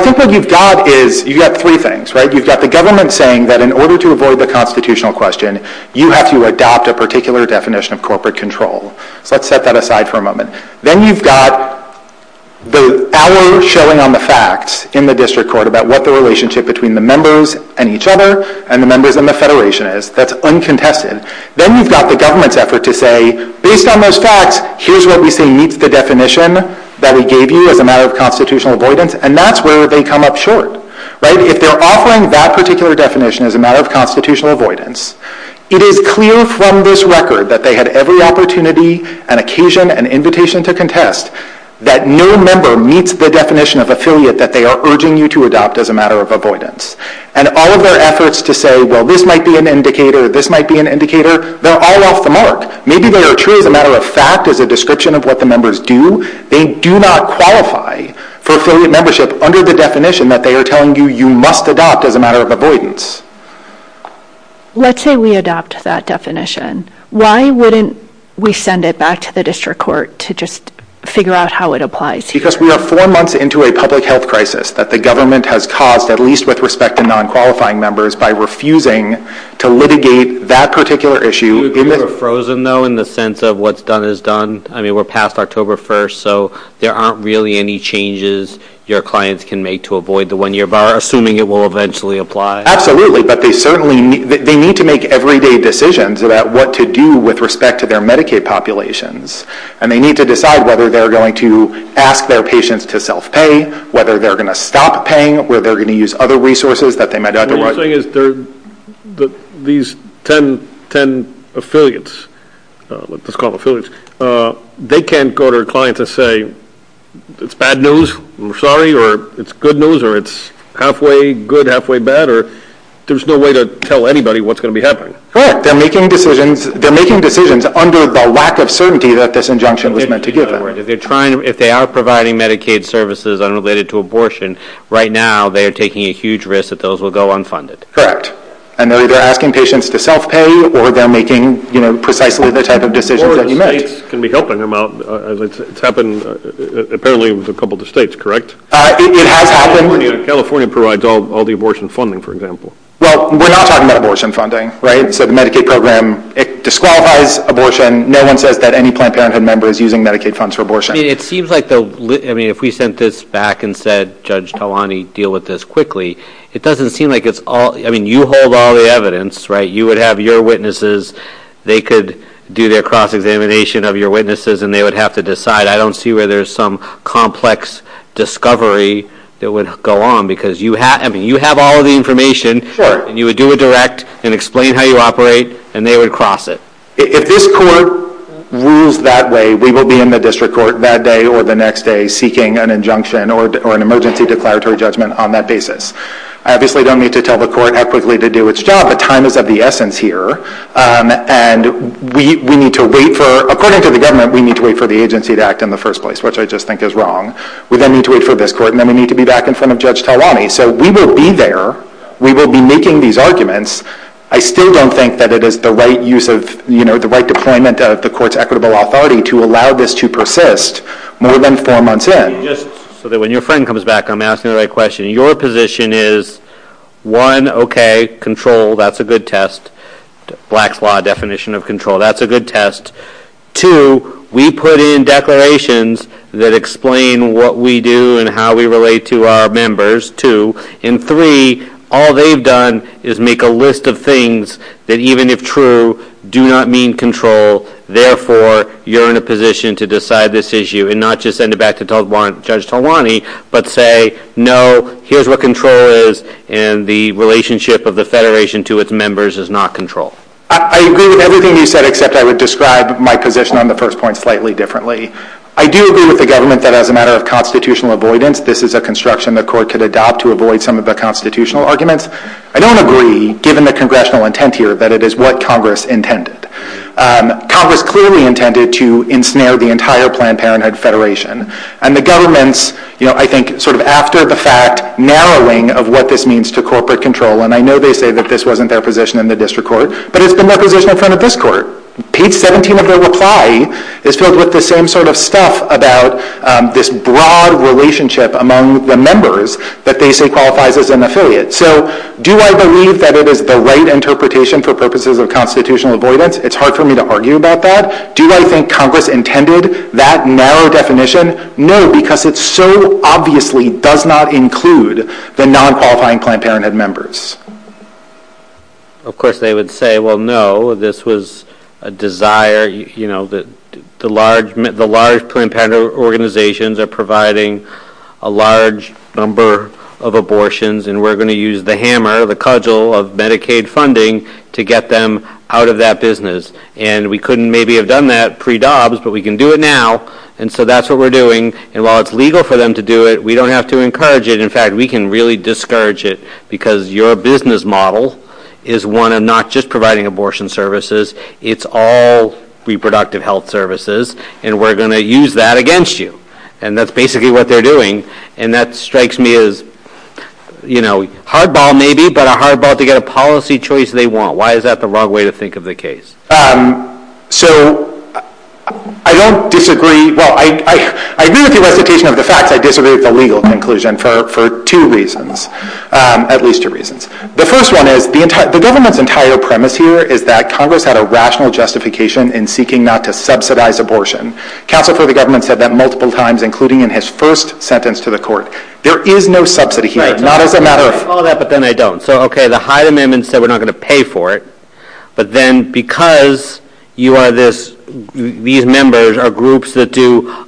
think what you've got is you've got three things. You've got the government saying that in order to avoid the constitutional question, you have to adopt a particular definition of corporate control. Let's set that aside for a moment. Then you've got the hours showing on the facts in the district court about what the relationship between the members and each other and the members and the federation is. That's uncontested. Then you've got the government's effort to say, based on those facts, here's what we think meets the definition that we gave you as a matter of constitutional avoidance, and that's where they come up short. If they're offering that particular definition as a matter of constitutional avoidance, it is clear from this record that they had every opportunity and occasion and invitation to contest that no member meets the definition of affiliate that they are urging you to adopt as a matter of avoidance. And all of their efforts to say, well, this might be an indicator, this might be an indicator, they're all off the mark. Maybe they are treated as a matter of fact as a description of what the members do. They do not qualify for affiliate membership under the definition that they are telling you you must adopt as a matter of avoidance. Let's say we adopt that definition. Why wouldn't we send it back to the district court to just figure out how it applies? Because we are four months into a public health crisis that the government has caused, at least with respect to non-qualifying members, by refusing to litigate that particular issue. We're frozen, though, in the sense of what's done is done. I mean, we're past October 1st, so there aren't really any changes your clients can make to avoid the one-year bar, assuming it will eventually apply. Absolutely, but they certainly need to make everyday decisions about what to do with respect to their Medicaid populations. And they need to decide whether they're going to ask their patients to self-pay, whether they're going to stop paying, whether they're going to use other resources that they might otherwise. The thing is these 10 affiliates, what's called affiliates, they can't go to a client and say, it's bad news, I'm sorry, or it's good news, or it's halfway good, halfway bad, or there's no way to tell anybody what's going to be happening. Correct. They're making decisions under the lack of certainty that this injunction was meant to give them. If they are providing Medicaid services unrelated to abortion, right now they are taking a huge risk that those will go unfunded. Correct. And they're either asking patients to self-pay or they're making precisely this type of decision. The states can be helping them out. It's happened apparently with a couple of the states, correct? California provides all the abortion funding, for example. Well, we're not talking about abortion funding, right? So the Medicaid program disqualifies abortion. No one says that any Planned Parenthood member is using Medicaid funds for abortion. It seems like if we sent this back and said, Judge Talani, deal with this quickly, it doesn't seem like it's all, I mean, you hold all the evidence, right? You would have your witnesses, they could do their cross-examination of your witnesses and they would have to decide. I don't see where there's some complex discovery that would go on because you have all the information. You would do a direct and explain how you operate and they would cross it. If this court rules that way, we will be in the district court that day or the next day seeking an injunction or an emergency declaratory judgment on that basis. I obviously don't need to tell the court equitably to do its job. The time is of the essence here and we need to wait for, according to the government, we need to wait for the agency to act in the first place, which I just think is wrong. We then need to wait for this court and then we need to be back in front of Judge Talani. So we will be there. We will be making these arguments. I still don't think that it is the right use of, you know, the right deployment of the court's equitable authority to allow this to persist more than four months in. So that when your friend comes back, I'm asking the right question. Your position is, one, okay, control, that's a good test. Black flaw definition of control, that's a good test. Two, we put in declarations that explain what we do and how we relate to our members, two. And three, all they've done is make a list of things that even if true, do not mean control. Therefore, you're in a position to decide this issue and not just send it back to Judge Talani but say, no, here's what control is and the relationship of the Federation to its members is not control. I agree with everything you said except I would describe my position on the first point slightly differently. I do agree with the government that as a matter of constitutional avoidance, this is a construction the court could adopt to avoid some of the constitutional arguments. I don't agree, given the congressional intent here, that it is what Congress intended. Congress clearly intended to ensnare the entire Planned Parenthood Federation. And the government's, you know, I think sort of after the fact, narrowing of what this means to corporate control, and I know they say that this wasn't their position in the district court, but it's the position in front of this court. Page 17 of their reply is filled with the same sort of stuff about this broad relationship among the members that they say qualifies as an affiliate. So do I believe that it is the right interpretation for purposes of constitutional avoidance? It's hard for me to argue about that. Do I think Congress intended that narrow definition? No, because it so obviously does not include the non-qualifying Planned Parenthood members. Of course they would say, well, no, this was a desire, you know, the large Planned Parenthood organizations are providing a large number of abortions and we're going to use the hammer, the cudgel of Medicaid funding to get them out of that business. And we couldn't maybe have done that pre-DOBS, but we can do it now. And so that's what we're doing. And while it's legal for them to do it, we don't have to encourage it. In fact, we can really discourage it because your business model is one of not just providing abortion services, it's all reproductive health services, and we're going to use that against you. And that's basically what they're doing. And that strikes me as, you know, hardball maybe, but a hardball to get a policy choice they want. Why is that the wrong way to think of the case? So I don't disagree. Well, I do disagree with the legal conclusion for two reasons, at least two reasons. The first one is the government's entire premise here is that Congress had a rational justification in seeking not to subsidize abortion. Counsel for the government said that multiple times, including in his first sentence to the court. There is no subsidy here, not as a matter of fact. I'm going to follow that, but then I don't. So, okay, the Hyde Amendment said we're not going to pay for it, but then because these members are groups that do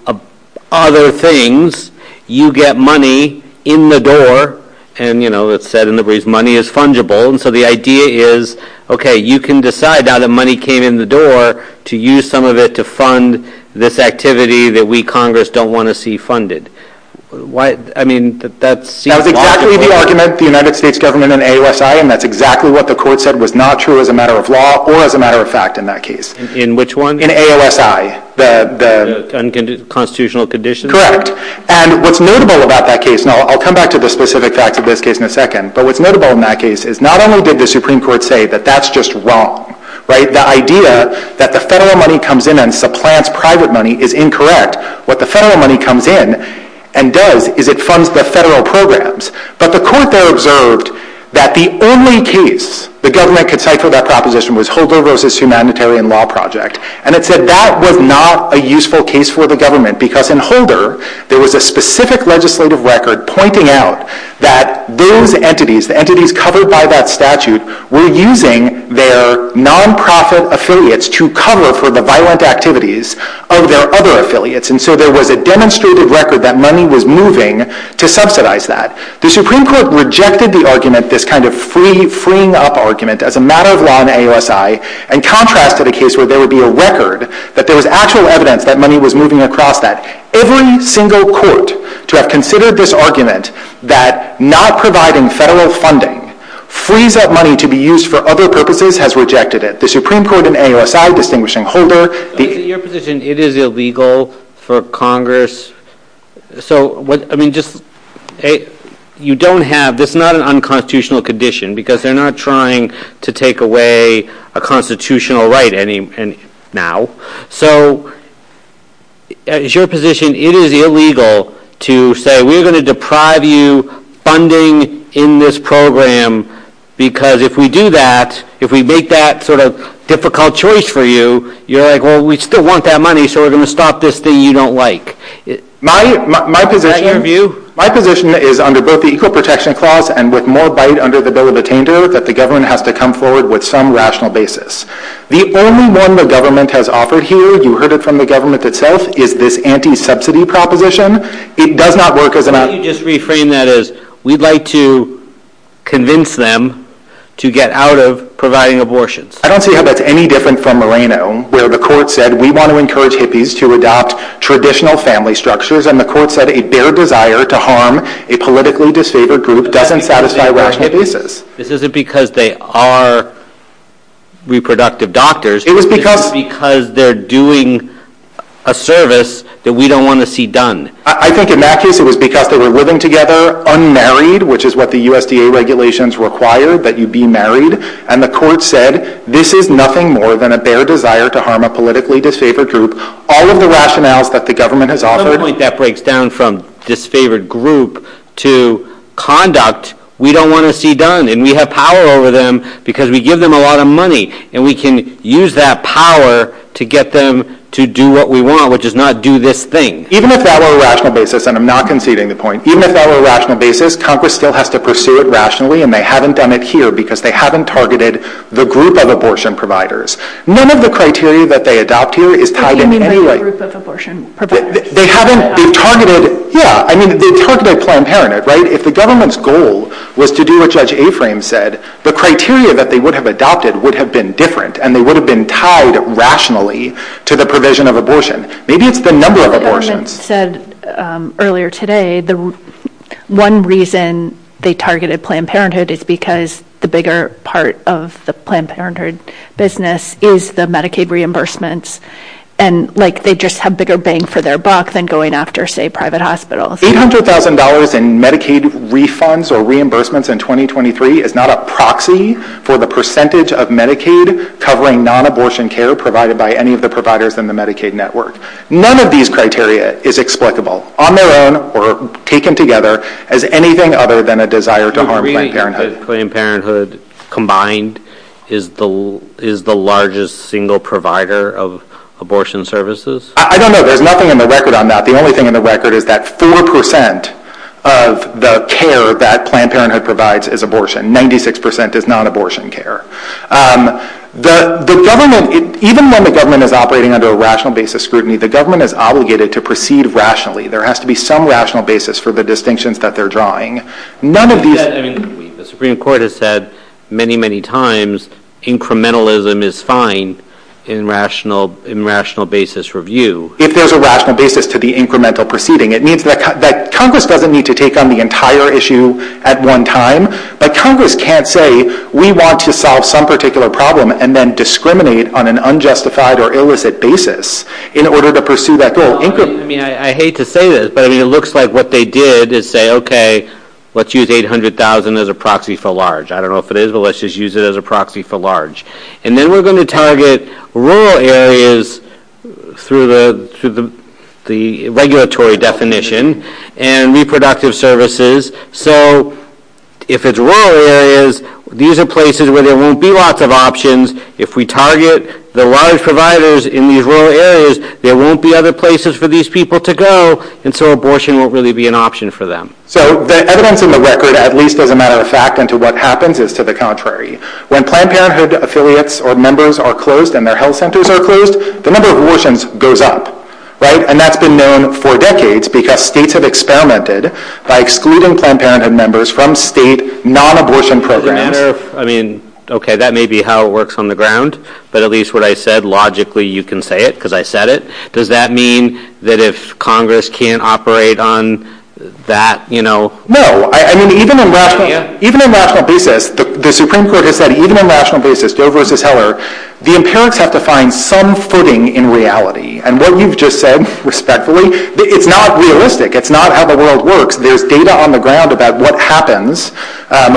other things, you get money in the door, and, you know, it's said in the brief, money is fungible. And so the idea is, okay, you can decide now that money came in the door to use some of it to fund this activity that we, Congress, don't want to see funded. I mean, that's... That's exactly the argument the United States government in AOSI, and that's exactly what the court said was not true as a matter of law or as a matter of fact in that case. In which one? In AOSI. The unconstitutional condition? Correct. And what's notable about that case, and I'll come back to the specific fact of this case in a second, but what's notable in that case is not only did the Supreme Court say that that's just wrong, right? The idea that the federal money comes in and supplants private money is incorrect. What the federal money comes in and does is it funds the federal programs. But the court there observed that the only case the government could cite for that proposition was Holder v. Humanitarian Law Project, and it said that was not a useful case for the government because in Holder there was a specific legislative record pointing out that those entities, the entities covered by that statute, were using their nonprofit affiliates to cover for the violent activities of their other affiliates, and so there was a demonstrated record that money was moving to subsidize that. The Supreme Court rejected the argument, this kind of freeing up argument as a matter of law in AOSI, and contrasted a case where there would be a record that there was actual evidence that money was moving across that. Every single court to have considered this argument that not providing federal funding frees up money to be used for other purposes has rejected it. The Supreme Court in AOSI distinguishing Holder. Your position, it is illegal for Congress. So, I mean, just, you don't have, this is not an unconstitutional condition because they're not trying to take away a constitutional right now. So, as your position, it is illegal to say we're going to deprive you funding in this program because if we do that, if we make that sort of difficult choice for you, you're like, well, we still want that money, so we're going to stop this thing you don't like. My position, my position is under both the Equal Protection Clause and with more bite under the Bill of Retainers that the government has to come forward with some rational basis. The only one the government has offered here, you heard it from the government itself, is this anti-subsidy proposition. It does not work as an option. Let me just reframe that as we'd like to convince them to get out of providing abortions. I don't see how that's any different from Moreno where the court said we want to encourage hippies to adopt traditional family structures and the court said a bare desire to harm a politically disfavored group doesn't satisfy rational basis. This isn't because they are reproductive doctors. It was because they're doing a service that we don't want to see done. I think in that case it was because they were living together unmarried, which is what the USDA regulations require, that you be married, and the court said this is nothing more than a bare desire to harm a politically disfavored group. All of the rationales that the government has offered. Something like that breaks down from disfavored group to conduct. We don't want to see done and we have power over them because we give them a lot of money and we can use that power to get them to do what we want, which is not do this thing. Even if that were a rational basis, and I'm not conceding the point, even if that were a rational basis, Congress still has to pursue it rationally and they haven't done it here because they haven't targeted the group of abortion providers. None of the criteria that they adopt here is tied in anyway. What do you mean the group of abortion providers? They haven't targeted, yeah, I mean they targeted Planned Parenthood, right? If the government's goal was to do what Judge Aframe said, the criteria that they would have adopted would have been different and they would have been tied rationally to the provision of abortion. Maybe it's the number of abortions. The government said earlier today the one reason they targeted Planned Parenthood is because the bigger part of the Planned Parenthood business is the Medicaid reimbursements and they just have bigger bang for their buck than going after, say, private hospitals. $800,000 in Medicaid refunds or reimbursements in 2023 is not a proxy for the percentage of Medicaid covering non-abortion care provided by any of the providers in the Medicaid network. None of these criteria is explicable on their own or taken together as anything other than a desire to harm Planned Parenthood. Do you mean Planned Parenthood combined is the largest single provider of abortion services? I don't know. There's nothing on the record on that. The only thing on the record is that 4% of the care that Planned Parenthood provides is abortion. 96% is non-abortion care. Even when the government is operating under a rational basis scrutiny, the government is obligated to proceed rationally. There has to be some rational basis for the distinctions that they're drawing. The Supreme Court has said many, many times incrementalism is fine in rational basis review. If there's a rational basis to the incremental proceeding, Congress doesn't need to take on the entire issue at one time. Congress can't say we want to solve some particular problem and then discriminate on an unjustified or illicit basis in order to pursue that goal. I hate to say this, but it looks like what they did is say, okay, let's use $800,000 as a proxy for large. I don't know if it is, but let's just use it as a proxy for large. And then we're going to target rural areas through the regulatory definition and reproductive services. So if it's rural areas, these are places where there won't be lots of options. If we target the large providers in these rural areas, there won't be other places for these people to go, and so abortion won't really be an option for them. So the evidence on the record, at least as a matter of fact, goes into what happens is to the contrary. When Planned Parenthood affiliates or members are closed and their health centers are closed, the number of abortions goes up. And that's been known for decades because states have experimented by excluding Planned Parenthood members from state non-abortion programs. Okay, that may be how it works on the ground, but at least what I said, logically you can say it because I said it. Does that mean that if Congress can't operate on that? No. I mean, even on a rational basis, the Supreme Court has said, even on a rational basis, Dover v. Heller, the parents have to find some footing in reality. And what you've just said, respectfully, it's not realistic. It's not how the world works. There's data on the ground about what happens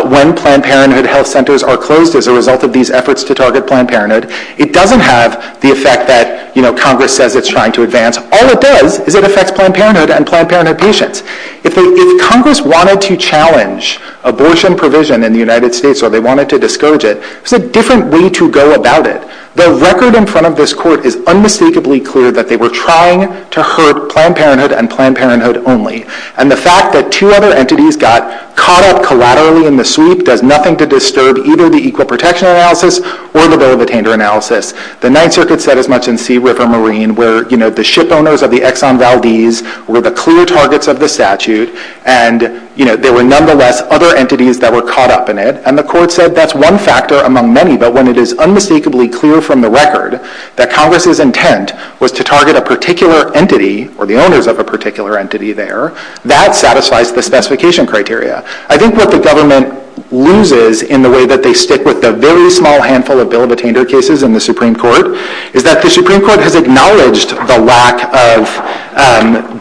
when Planned Parenthood health centers are closed as a result of these efforts to target Planned Parenthood. It doesn't have the effect that Congress says it's trying to advance. All it does is it affects Planned Parenthood and Planned Parenthood patients. If Congress wanted to challenge abortion provision in the United States or they wanted to discourage it, it's a different way to go about it. The record in front of this court is unmistakably clear that they were trying to hurt Planned Parenthood and Planned Parenthood only. And the fact that two other entities got caught up collaterally in the sweep does nothing to disturb either the Equal Protection Analysis or the Dover-Vitainter Analysis. The Ninth Circuit said as much in Sea, River, Marine where, you know, the ship owners of the Exxon Valdez were the clear targets of the statute and, you know, there were nonetheless other entities that were caught up in it. And the court said that's one factor among many, but when it is unmistakably clear from the record that Congress's intent was to target a particular entity or the owners of a particular entity there, that satisfies the specification criteria. I think what the government loses in the way that they stick with the very small handful of Dover-Vitainter cases in the Supreme Court is that the Supreme Court has acknowledged the lack of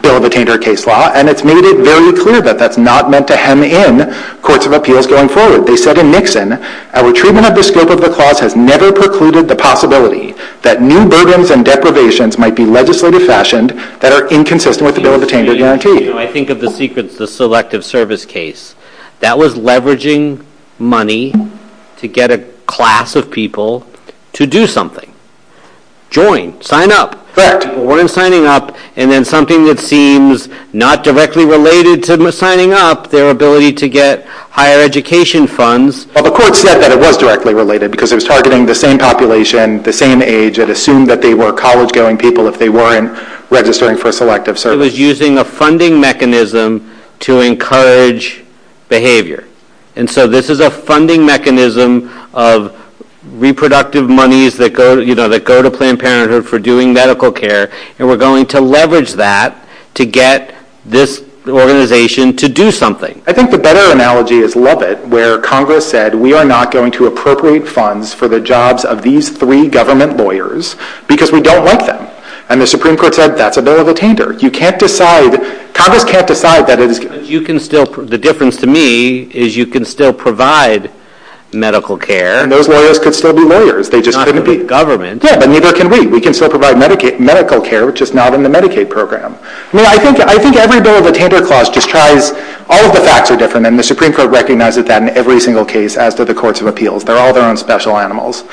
Dover-Vitainter case law and it's made it very clear that that's not meant to hem in courts of appeals going forward. They said in Nixon, our treatment of the scope of the clause has never precluded the possibility that new burdens and deprivations might be legislatively fashioned that are inconsistent with the Dover-Vitainter guarantee. I think of the Selective Service case. That was leveraging money to get a class of people to do something. Join, sign up. But they weren't signing up. And then something that seems not directly related to signing up, their ability to get higher education funds. Well, the court said that it was directly related because it was targeting the same population, the same age. It assumed that they were college-going people if they weren't registering for Selective Service. Congress is using a funding mechanism to encourage behavior. And so this is a funding mechanism of reproductive monies that go to Planned Parenthood for doing medical care, and we're going to leverage that to get this organization to do something. I think the better analogy is Lubbock, where Congress said we are not going to appropriate funds for the jobs of these three government lawyers because we don't want them. And the Supreme Court said that's a Dover-Vitainter. Congress can't decide that. The difference to me is you can still provide medical care. And those lawyers could still be lawyers. They just couldn't be government. Yeah, but neither can we. We can still provide medical care, which is not in the Medicaid program. I think every bill of the Tender Clause just tries all of the facts are different, and the Supreme Court recognizes that in every single case, as do the courts of appeals. They're all their own special animals.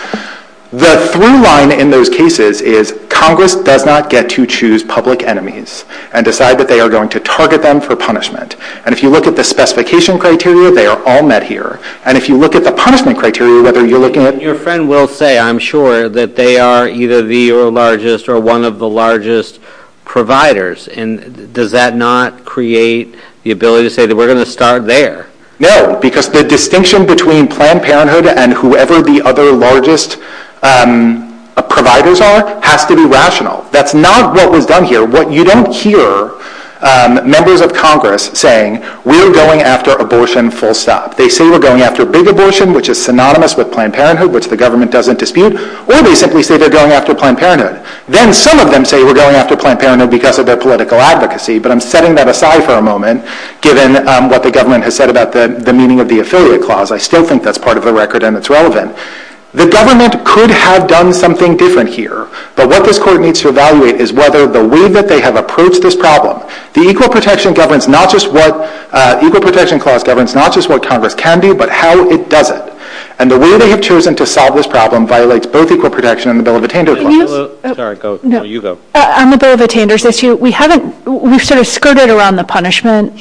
The through line in those cases is Congress does not get to choose public enemies and decide that they are going to target them for punishment. And if you look at the specification criteria, they are all met here. And if you look at the punishment criteria, whether you're looking at... Your friend will say, I'm sure, that they are either the largest or one of the largest providers. Does that not create the ability to say that we're going to start there? No, because the distinction between Planned Parenthood and whoever the other largest providers are has to be rational. That's not what we've done here. You don't hear members of Congress saying, we're going after abortion full stop. They say we're going after big abortion, which is synonymous with Planned Parenthood, which the government doesn't dispute. Or they simply say they're going after Planned Parenthood. Then some of them say we're going after Planned Parenthood because of their political advocacy. But I'm setting that aside for a moment, given what the government has said about the meaning of the Affiliate Clause. I still think that's part of the record and it's relevant. The government could have done something different here. But what this court needs to evaluate is whether the way that they have approached this problem. The Equal Protection Clause governs not just what Congress can do, but how it does it. And the way they have chosen to solve this problem violates both Equal Protection and the Bill of Attenders Law. Sorry, you go. On the Bill of Attenders issue, we've sort of skirted around the punishment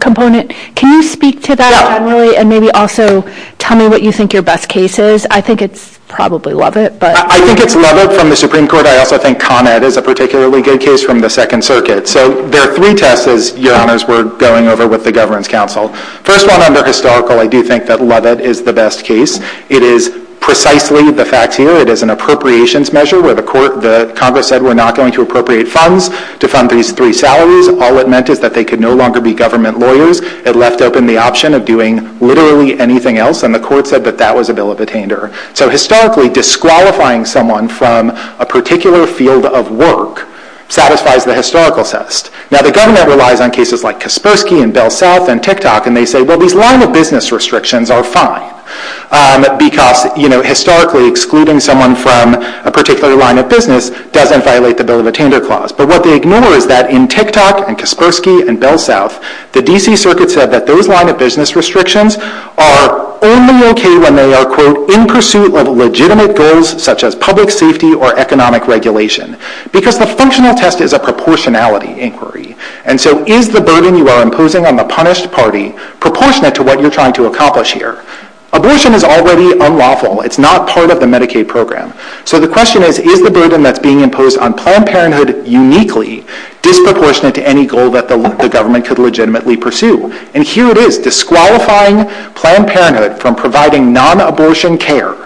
component. Can you speak to that generally and maybe also tell me what you think your best case is? I think it's probably Lovett. I think it's Lovett from the Supreme Court. I also think ComEd is a particularly good case from the Second Circuit. So there are three tests, Your Honors, we're going over with the Governance Council. First one, under historical, I do think that Lovett is the best case. It is precisely the facts here. It is an appropriations measure where the Congress said we're not going to appropriate funds to fund these three salaries. All it meant is that they could no longer be government lawyers. It left open the option of doing literally anything else, and the court said that that was the Bill of Attender. So historically, disqualifying someone from a particular field of work satisfies the historical test. Now, the government relies on cases like Kaspersky and Bell South and TikTok, and they say, well, these line-of-business restrictions are fine because historically excluding someone from a particular line of business doesn't violate the Bill of Attender Clause. But what they ignore is that in TikTok and Kaspersky and Bell South, the D.C. Circuit said that those line-of-business restrictions are only okay when they are, quote, in pursuit of legitimate goals such as public safety or economic regulation, because the functional test is a proportionality inquiry. And so is the burden you are imposing on the punished party proportionate to what you're trying to accomplish here? Abortion is already unlawful. It's not part of the Medicaid program. So the question is, is the burden that's being imposed on Planned Parenthood uniquely disproportionate to any goal that the government could legitimately pursue? And here it is, disqualifying Planned Parenthood from providing non-abortion care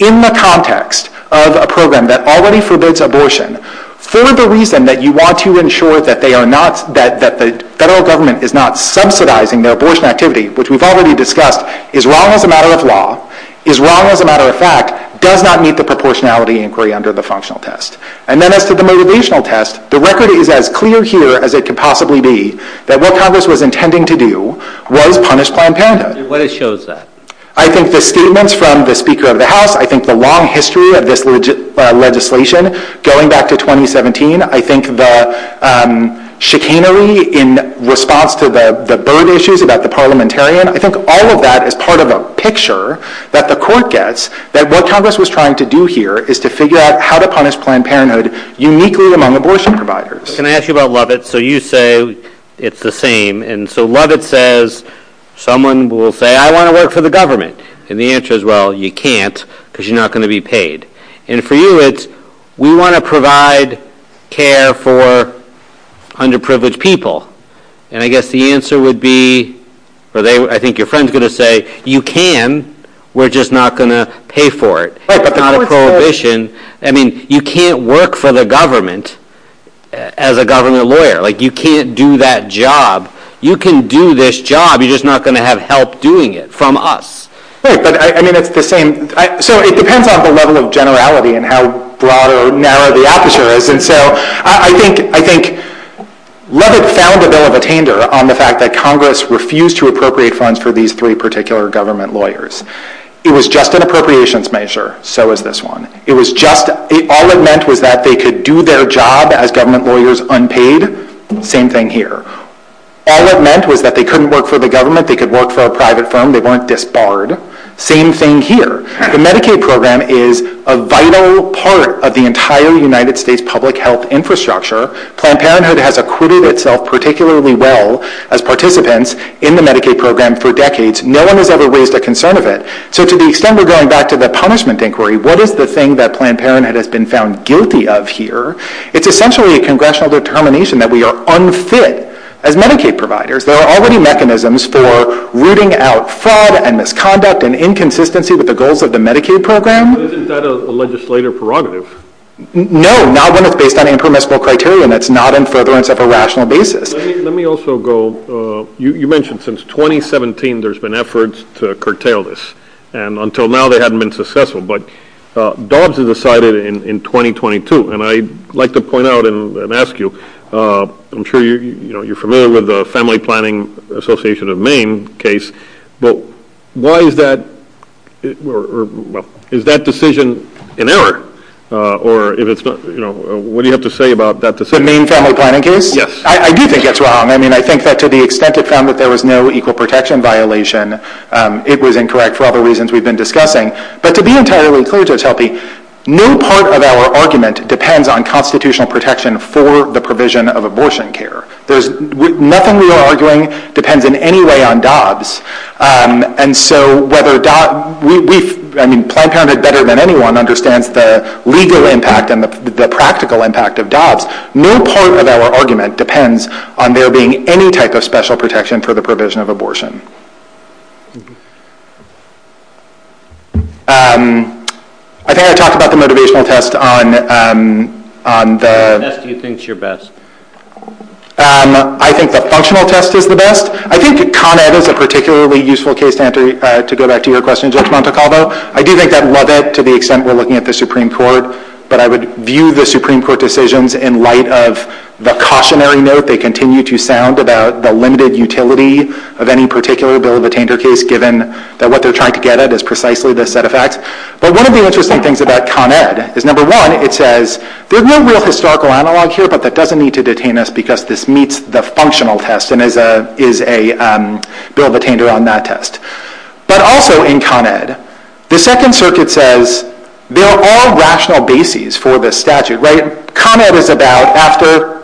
in the context of a program that already forbids abortion for the reason that you want to ensure that the federal government is not subsidizing their abortion activity, which we've already discussed, is wrong as a matter of law, is wrong as a matter of fact, does not meet the proportionality inquiry under the functional test. And then as to the motivational test, the record is as clear here as it could possibly be that what Congress was intending to do was punish Planned Parenthood. And what it shows is that? I think the statements from the Speaker of the House, I think the long history of this legislation going back to 2017, I think the chicanery in response to the bird issues about the parliamentarian, I think all of that is part of a picture that the court gets that what Congress was trying to do here is to figure out how to punish Planned Parenthood uniquely among abortion providers. Can I ask you about Lovett? So you say it's the same. And so Lovett says, someone will say, I want to work for the government. And the answer is, well, you can't because you're not going to be paid. And for you it's, we want to provide care for underprivileged people. And I guess the answer would be, or I think your friend is going to say, you can, we're just not going to pay for it. It's not a prohibition. I mean, you can't work for the government as a government lawyer. Like you can't do that job. You can do this job, you're just not going to have help doing it from us. Right, but I mean it's the same. So it depends on the level of generality and how broad or narrow the answer is. And so I think Lovett sounded a little bit tamer on the fact that Congress refused to appropriate funds for these three particular government lawyers. It was just an appropriations measure. So was this one. It was just, all it meant was that they could do their job as government lawyers unpaid. Same thing here. All it meant was that they couldn't work for the government. They could work for a private firm. They weren't disbarred. Same thing here. The Medicaid program is a vital part of the entire United States public health infrastructure. Planned Parenthood has acquitted itself particularly well as participants in the Medicaid program for decades. No one has ever raised a concern of it. So to the extent we're going back to the punishment inquiry, what is the thing that Planned Parenthood has been found guilty of here? It's essentially a congressional determination that we are unfit as Medicaid providers. There are already mechanisms for rooting out fraud and misconduct and inconsistency with the goals of the Medicaid program. Isn't that a legislative prerogative? No, not when it's based on impermissible criteria and it's not in furtherance of a rational basis. Let me also go, you mentioned since 2017 there's been efforts to curtail this, and until now they haven't been successful. But Dobbs has decided in 2022, and I'd like to point out and ask you, I'm sure you're familiar with the Family Planning Association of Maine case. Why is that decision an error? What do you have to say about that decision? The Maine Family Planning case? Yes. I do think it's wrong. I think that to the extent it found that there was no equal protection violation, it was incorrect for other reasons we've been discussing. But to be entirely clear to Chelsea, no part of our argument depends on constitutional protection for the provision of abortion care. Nothing we are arguing depends in any way on Dobbs. And so whether Dobbs, I mean Planned Parenthood better than anyone, understands the legal impact and the practical impact of Dobbs, no part of our argument depends on there being any type of special protection for the provision of abortion. I think I talked about the motivational test on the... Which do you think is your best? I think the functional test is the best. I think Con Ed is a particularly useful case to answer, to go back to your question, George Montecalvo. I do think that level to the extent we're looking at the Supreme Court, but I would view the Supreme Court decisions in light of the cautionary note they continue to sound about the limited utility of any particular bill of attainder case, given that what they're trying to get at is precisely the set of facts. But one of the interesting things about Con Ed is, number one, it says there's no real historical analog here, but that doesn't need to detain us because this meets the functional test and is a bill of attainder on that test. But also in Con Ed, the Second Circuit says there are rational bases for this statute. Con Ed is about after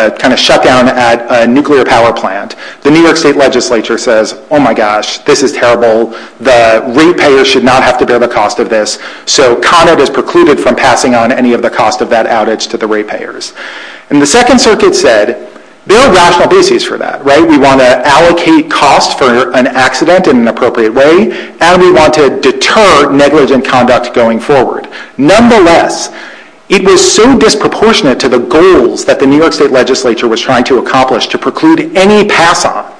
a kind of shutdown at a nuclear power plant, the New York State Legislature says, oh my gosh, this is terrible. The rate payers should not have to bear the cost of this. So Con Ed is precluded from passing on any of the cost of that outage to the rate payers. And the Second Circuit said there are rational bases for that. We want to allocate costs for an accident in an appropriate way, and we want to deter negligent conduct going forward. Nonetheless, it was so disproportionate to the goals that the New York State Legislature was trying to accomplish to preclude any pass on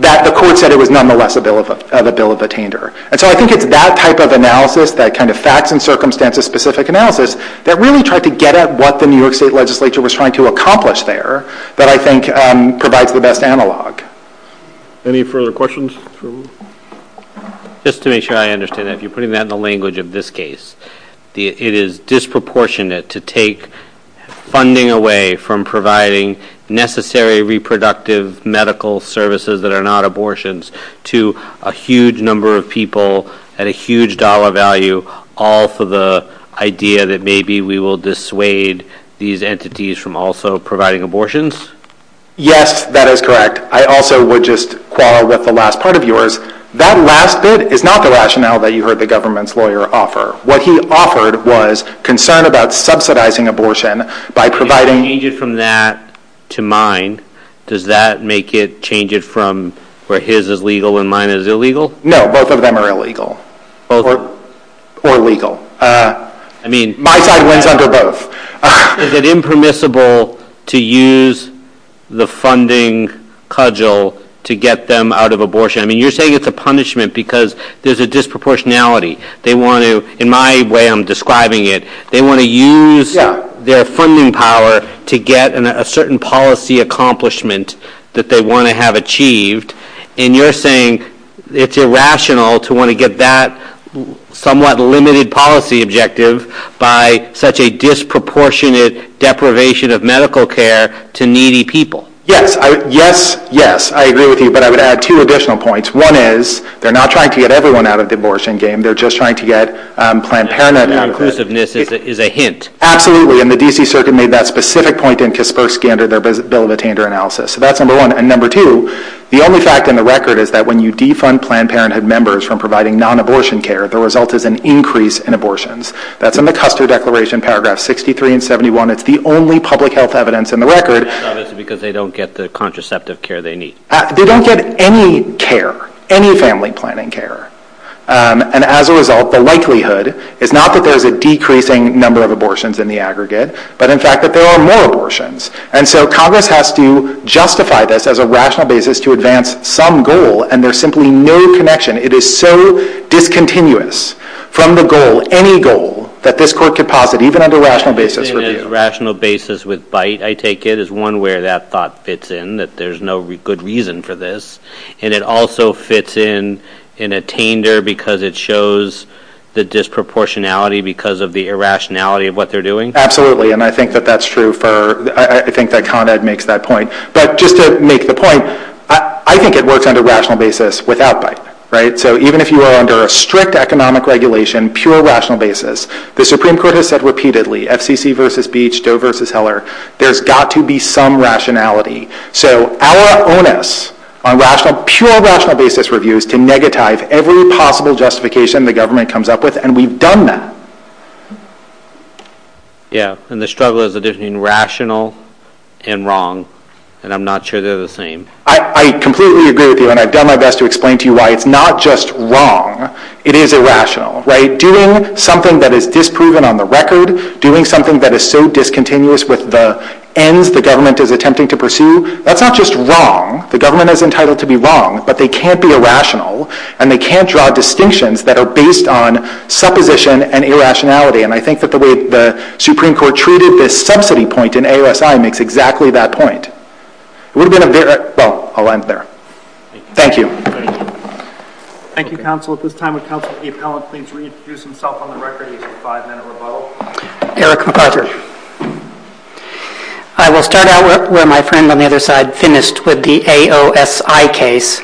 that the court said it was nonetheless a bill of attainder. And so I think it's that type of analysis, that kind of facts and circumstances specific analysis, that really tried to get at what the New York State Legislature was trying to accomplish there that I think provides the best analog. Any further questions? Just to make sure I understand that, if you're putting that in the language of this case, it is disproportionate to take funding away from providing necessary reproductive medical services that are not abortions to a huge number of people at a huge dollar value all for the idea that maybe we will dissuade these entities from also providing abortions? Yes, that is correct. I also would just qualify with the last part of yours. That last bit is not the rationale that you heard the government's lawyer offer. What he offered was concern about subsidizing abortion by providing If you change it from that to mine, does that make it change it from where his is legal and mine is illegal? No, both of them are illegal. Both? Or legal. My side wins under both. Is it impermissible to use the funding cudgel to get them out of abortion? You're saying it's a punishment because there's a disproportionality. In my way of describing it, they want to use their funding power to get a certain policy accomplishment that they want to have achieved, and you're saying it's irrational to want to get that somewhat limited policy objective by such a disproportionate deprivation of medical care to needy people. Yes, I agree with you, but I would add two additional points. One is, they're not trying to get everyone out of the abortion game. They're just trying to get Planned Parenthood. Inclusiveness is a hint. Absolutely, and the D.C. Circuit made that specific point in its post-scandal bill of attainment analysis. So that's number one. And number two, the only fact in the record is that when you defund Planned Parenthood members from providing non-abortion care, the result is an increase in abortions. That's in the Custer Declaration, paragraphs 63 and 71. It's the only public health evidence in the record. Because they don't get the contraceptive care they need. They don't get any care, any family planning care. And as a result, the likelihood is not that there's a decreasing number of abortions in the aggregate, but in fact that there are more abortions. And so Congress has to justify this as a rational basis to advance some goal, and there's simply no connection. It is so discontinuous from the goal, any goal, that this court could posit, even on the rational basis. Rational basis with bite, I take it, is one where that thought fits in, that there's no good reason for this. And it also fits in in attainder because it shows the disproportionality because of the irrationality of what they're doing? Absolutely, and I think that that's true. I think that Con Ed makes that point. But just to make the point, I think it works on a rational basis without bite, right? So even if you are under a strict economic regulation, pure rational basis, the Supreme Court has said repeatedly, FCC versus Beach, Doe versus Heller, there's got to be some rationality. So our onus on rational, pure rational basis reviews to negatize every possible justification the government comes up with, and we've done that. Yeah, and the struggle is between rational and wrong, and I'm not sure they're the same. I completely agree with you, and I've done my best to explain to you why it's not just wrong, it is irrational, right? Doing something that is disproven on the record, doing something that is so discontinuous with the ends the government is attempting to pursue, that's not just wrong. The government is entitled to be wrong, but they can't be irrational, and they can't draw distinctions that are based on supposition and irrationality. And I think that the way the Supreme Court treated this subsidy point in AERSI makes exactly that point. It would have been a very – well, I'll end there. Thank you. Thank you, Counsel. At this time, would Counsel to the Appellant please reintroduce himself on the record as a five-member vote? Eric McArthur. I will start out where my friend on the other side finished with the AOSI case.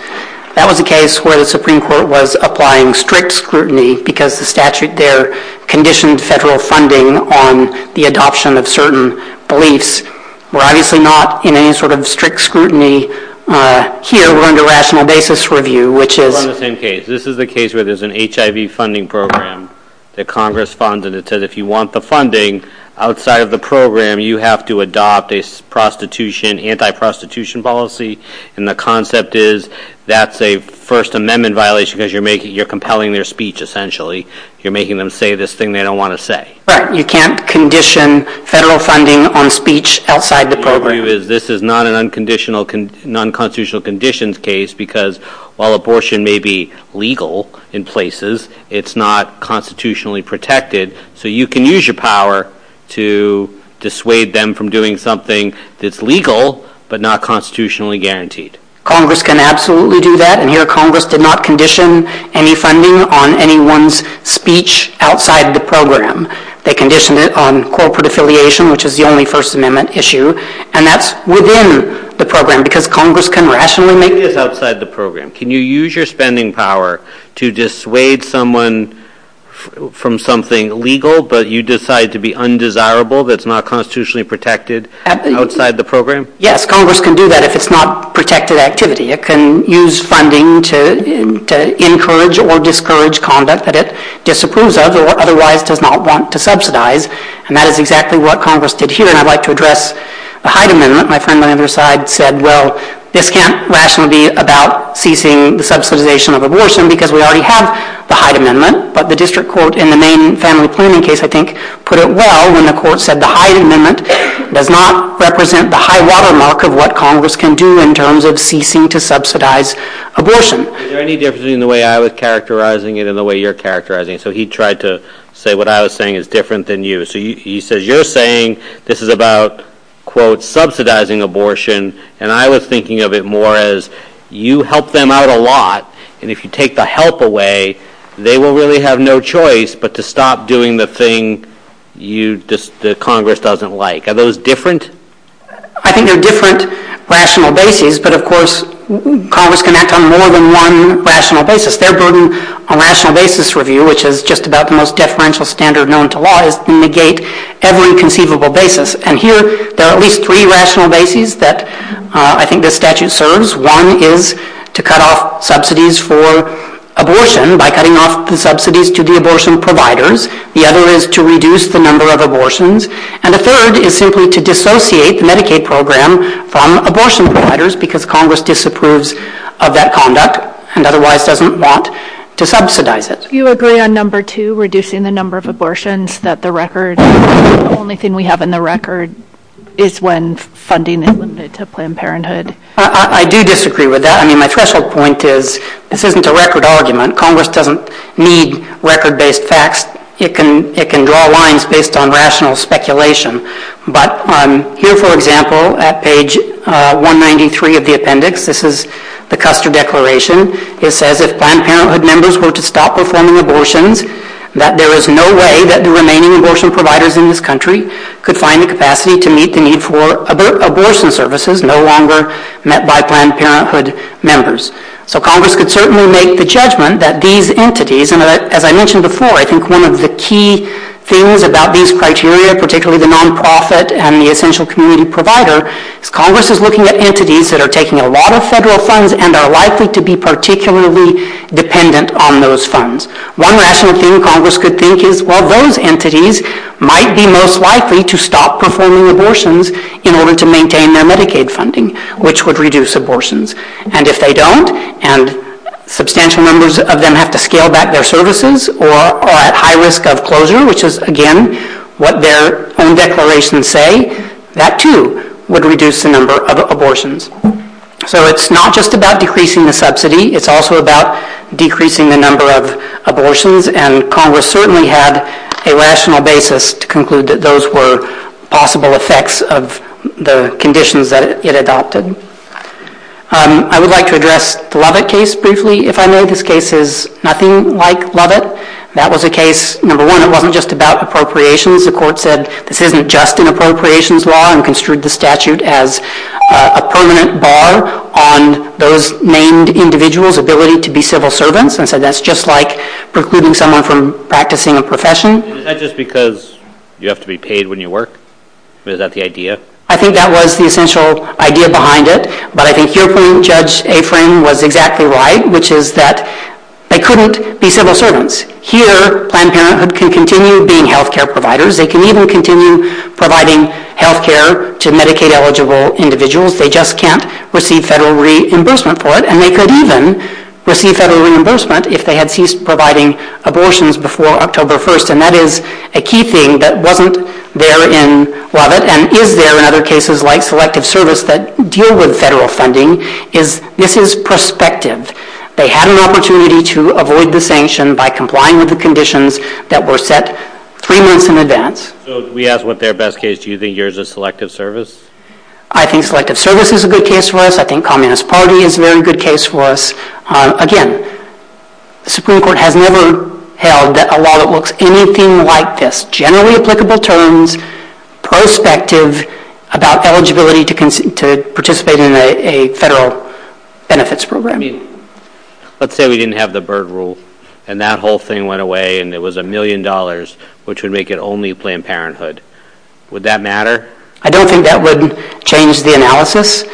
That was a case where the Supreme Court was applying strict scrutiny because the statute there conditioned federal funding on the adoption of certain beliefs. We're obviously not in any sort of strict scrutiny here. We're under rational basis review, which is – On the same case. This is a case where there's an HIV funding program that Congress funds, and it says if you want the funding outside of the program, you have to adopt a anti-prostitution policy, and the concept is that's a First Amendment violation because you're compelling their speech, essentially. You're making them say this thing they don't want to say. Right. You can't condition federal funding on speech outside the program. What we can tell you is this is not a non-constitutional conditions case because while abortion may be legal in places, it's not constitutionally protected, so you can use your power to dissuade them from doing something that's legal but not constitutionally guaranteed. Congress can absolutely do that, and here Congress did not condition any funding on anyone's speech outside of the program. They conditioned it on corporate affiliation, which is the only First Amendment issue, and that's within the program because Congress can rationally make this outside the program. Can you use your spending power to dissuade someone from something legal, but you decide to be undesirable that's not constitutionally protected outside the program? Yes, Congress can do that if it's not protected activity. It can use funding to encourage or discourage conduct that it disapproves of or otherwise does not want to subsidize, and that is exactly what Congress did here, and I'd like to address the Hyde Amendment. My friend on the other side said, well, this can't rationally be about ceasing the subsidization of abortion because we already have the Hyde Amendment, but the district court in the main family planning case, I think, put it well when the court said the Hyde Amendment does not represent the high watermark of what Congress can do in terms of ceasing to subsidize abortion. Is there any difference between the way I was characterizing it and the way you're characterizing it? So he tried to say what I was saying is different than you. So you said you're saying this is about, quote, subsidizing abortion, and I was thinking of it more as you help them out a lot, and if you take the help away, they will really have no choice but to stop doing the thing that Congress doesn't like. Are those different? I think they're different rational bases, but, of course, Congress can act on more than one rational basis. Their burden on rational basis review, which is just about the most deferential standard known to law, is to negate every conceivable basis, and here there are at least three rational bases that I think this statute serves. One is to cut off subsidies for abortion by cutting off subsidies to the abortion providers. The other is to reduce the number of abortions, and the third is simply to dissociate the Medicaid program from abortion providers because Congress disapproves of that conduct and otherwise doesn't want to subsidize it. Do you agree on number two, reducing the number of abortions, that the only thing we have in the record is when funding is limited to Planned Parenthood? I do disagree with that. I mean, my threshold point is this isn't a record argument. Congress doesn't need record-based facts. It can draw lines based on rational speculation, but here, for example, at page 193 of the appendix, this is the Custer Declaration. It says if Planned Parenthood members were to stop performing abortions, that there is no way that the remaining abortion providers in this country could find the capacity to meet the need for abortion services no longer met by Planned Parenthood members. So Congress could certainly make the judgment that these entities, and as I mentioned before, I think one of the key things about these criteria, particularly the nonprofit and the essential community provider, is Congress is looking at entities that are taking a lot of federal funds and are likely to be particularly dependent on those funds. One rational thing Congress could think is, well, those entities might be most likely to stop performing abortions in order to maintain their Medicaid funding, which would reduce abortions. And if they don't, and substantial numbers of them have to scale back their services or are at high risk of closure, which is, again, what their own declarations say, that too would reduce the number of abortions. So it's not just about decreasing the subsidy. It's also about decreasing the number of abortions, and Congress certainly had a rational basis to conclude that those were possible effects of the conditions that it adopted. I would like to address the Lovett case briefly. If I may, this case is nothing like Lovett. That was a case, number one, it wasn't just about appropriations. The court said this isn't just an appropriations law and construed the statute as a permanent bar on those named individuals' ability to be civil servants and said that's just like precluding someone from practicing a profession. Is that just because you have to be paid when you work? Is that the idea? I think that was the essential idea behind it, but I think your point, Judge Afrin, was exactly right, which is that they couldn't be civil servants. Here Planned Parenthood can continue being health care providers. They can even continue providing health care to Medicaid-eligible individuals. They just can't receive federal reimbursement for it, and they could even receive federal reimbursement if they had ceased providing abortions before October 1st, and that is a key thing that wasn't there in Lovett and is there in other cases like Selective Service that deal with federal funding. This is prospective. They had an opportunity to avoid the sanction by complying with the conditions that were set three months in advance. We asked what their best case. Do you think yours is Selective Service? I think Selective Service is a good case for us. I think Communist Party is a very good case for us. Again, the Supreme Court has never held a law that looks anything like this, generally applicable terms, prospective, about eligibility to participate in a federal benefits program. Let's say we didn't have the Byrd Rule and that whole thing went away and it was a million dollars, which would make it only Planned Parenthood. Would that matter? I don't think that would change the analysis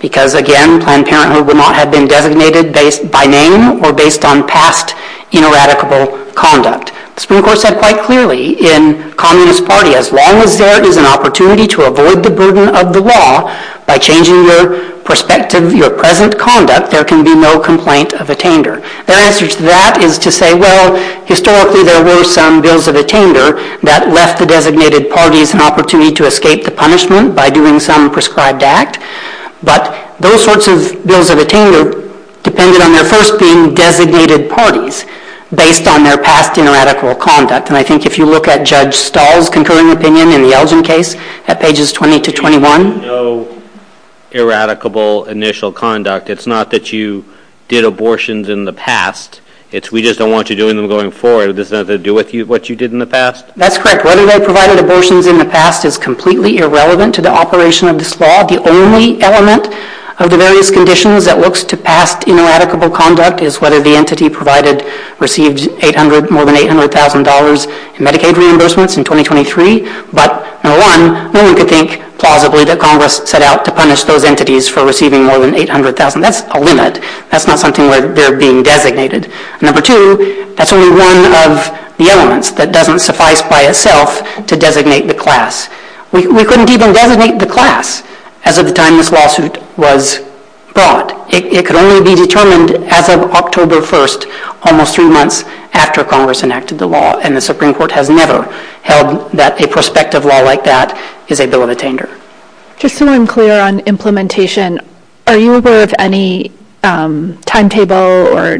because, again, that had been designated by name or based on past ineradicable conduct. The Supreme Court said quite clearly in Communist Party, as long as there is an opportunity to avoid the burden of the law by changing your perspective, your present conduct, there can be no complaint of a tainter. Their answer to that is to say, well, historically there were some bills of a tainter that left the designated parties an opportunity to escape the punishment by doing some prescribed act. But those sorts of bills of a tainter depended on their first being designated parties based on their past ineradicable conduct. And I think if you look at Judge Stahl's concurring opinion in the Elgin case at pages 20 to 21. No eradicable initial conduct. It's not that you did abortions in the past. It's we just don't want you doing them going forward. This has nothing to do with what you did in the past? That's correct. Whether they provided abortions in the past is completely irrelevant to the operation of this law. The only element of the various conditions that looks to past ineradicable conduct is whether the entity received more than $800,000 in Medicaid reimbursements in 2023. But, number one, one could think plausibly that Congress set out to punish those entities for receiving more than $800,000. That's a limit. That's not something where they're being designated. Number two, that's only one of the elements that doesn't suffice by itself to designate the class. We couldn't even designate the class as of the time this lawsuit was brought. It could only be determined as of October 1, almost two months after Congress enacted the law, and the Supreme Court has never held that a prospective law like that is a bill of attainder. Just so I'm clear on implementation, are you aware of any timetable or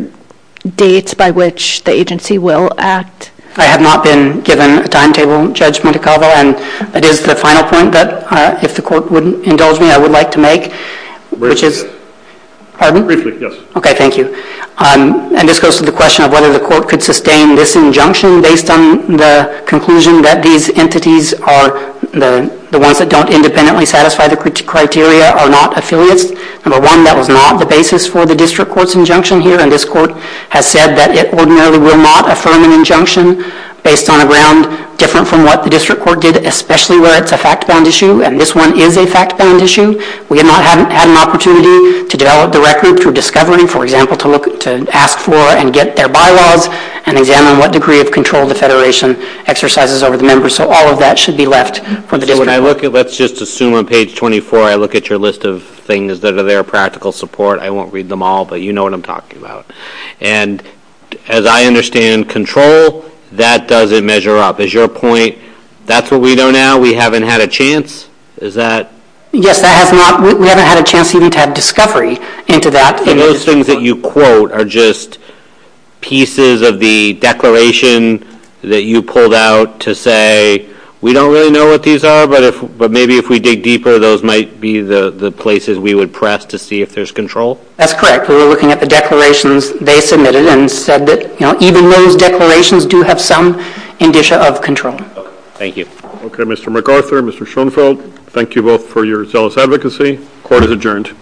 dates by which the agency will act? I have not been given a timetable, Judge Mutakaba, and it is the final point that, if the court would indulge me, I would like to make. Briefly. Pardon? Briefly, yes. Okay, thank you. And this goes to the question of whether the court could sustain this injunction based on the conclusion that these entities are the ones that don't independently satisfy the criteria are not affiliates. Number one, that is not the basis for the district court's injunction here, and this court has said that it ordinarily will not affirm an injunction based on a ground different from what the district court did, especially where it's a fact-bound issue, and this one is a fact-bound issue. We have not had an opportunity to develop the record for discovery, for example, to ask for and get their bylaws and examine what degree of control the federation exercises over the members. So all of that should be left for the district court. Let's just assume on page 24 I look at your list of things that are there, practical support. I won't read them all, but you know what I'm talking about. And as I understand control, that doesn't measure up. Is your point that's what we know now? We haven't had a chance? Yes, we haven't had a chance even to have discovery into that. And those things that you quote are just pieces of the declaration that you pulled out to say, we don't really know what these are, but maybe if we dig deeper, those might be the places we would press to see if there's control? That's correct. We were looking at the declarations they submitted and said that even those declarations do have some indicia of control. Thank you. Okay, Mr. McArthur, Mr. Schoenfeld, thank you both for your zealous advocacy. Court is adjourned.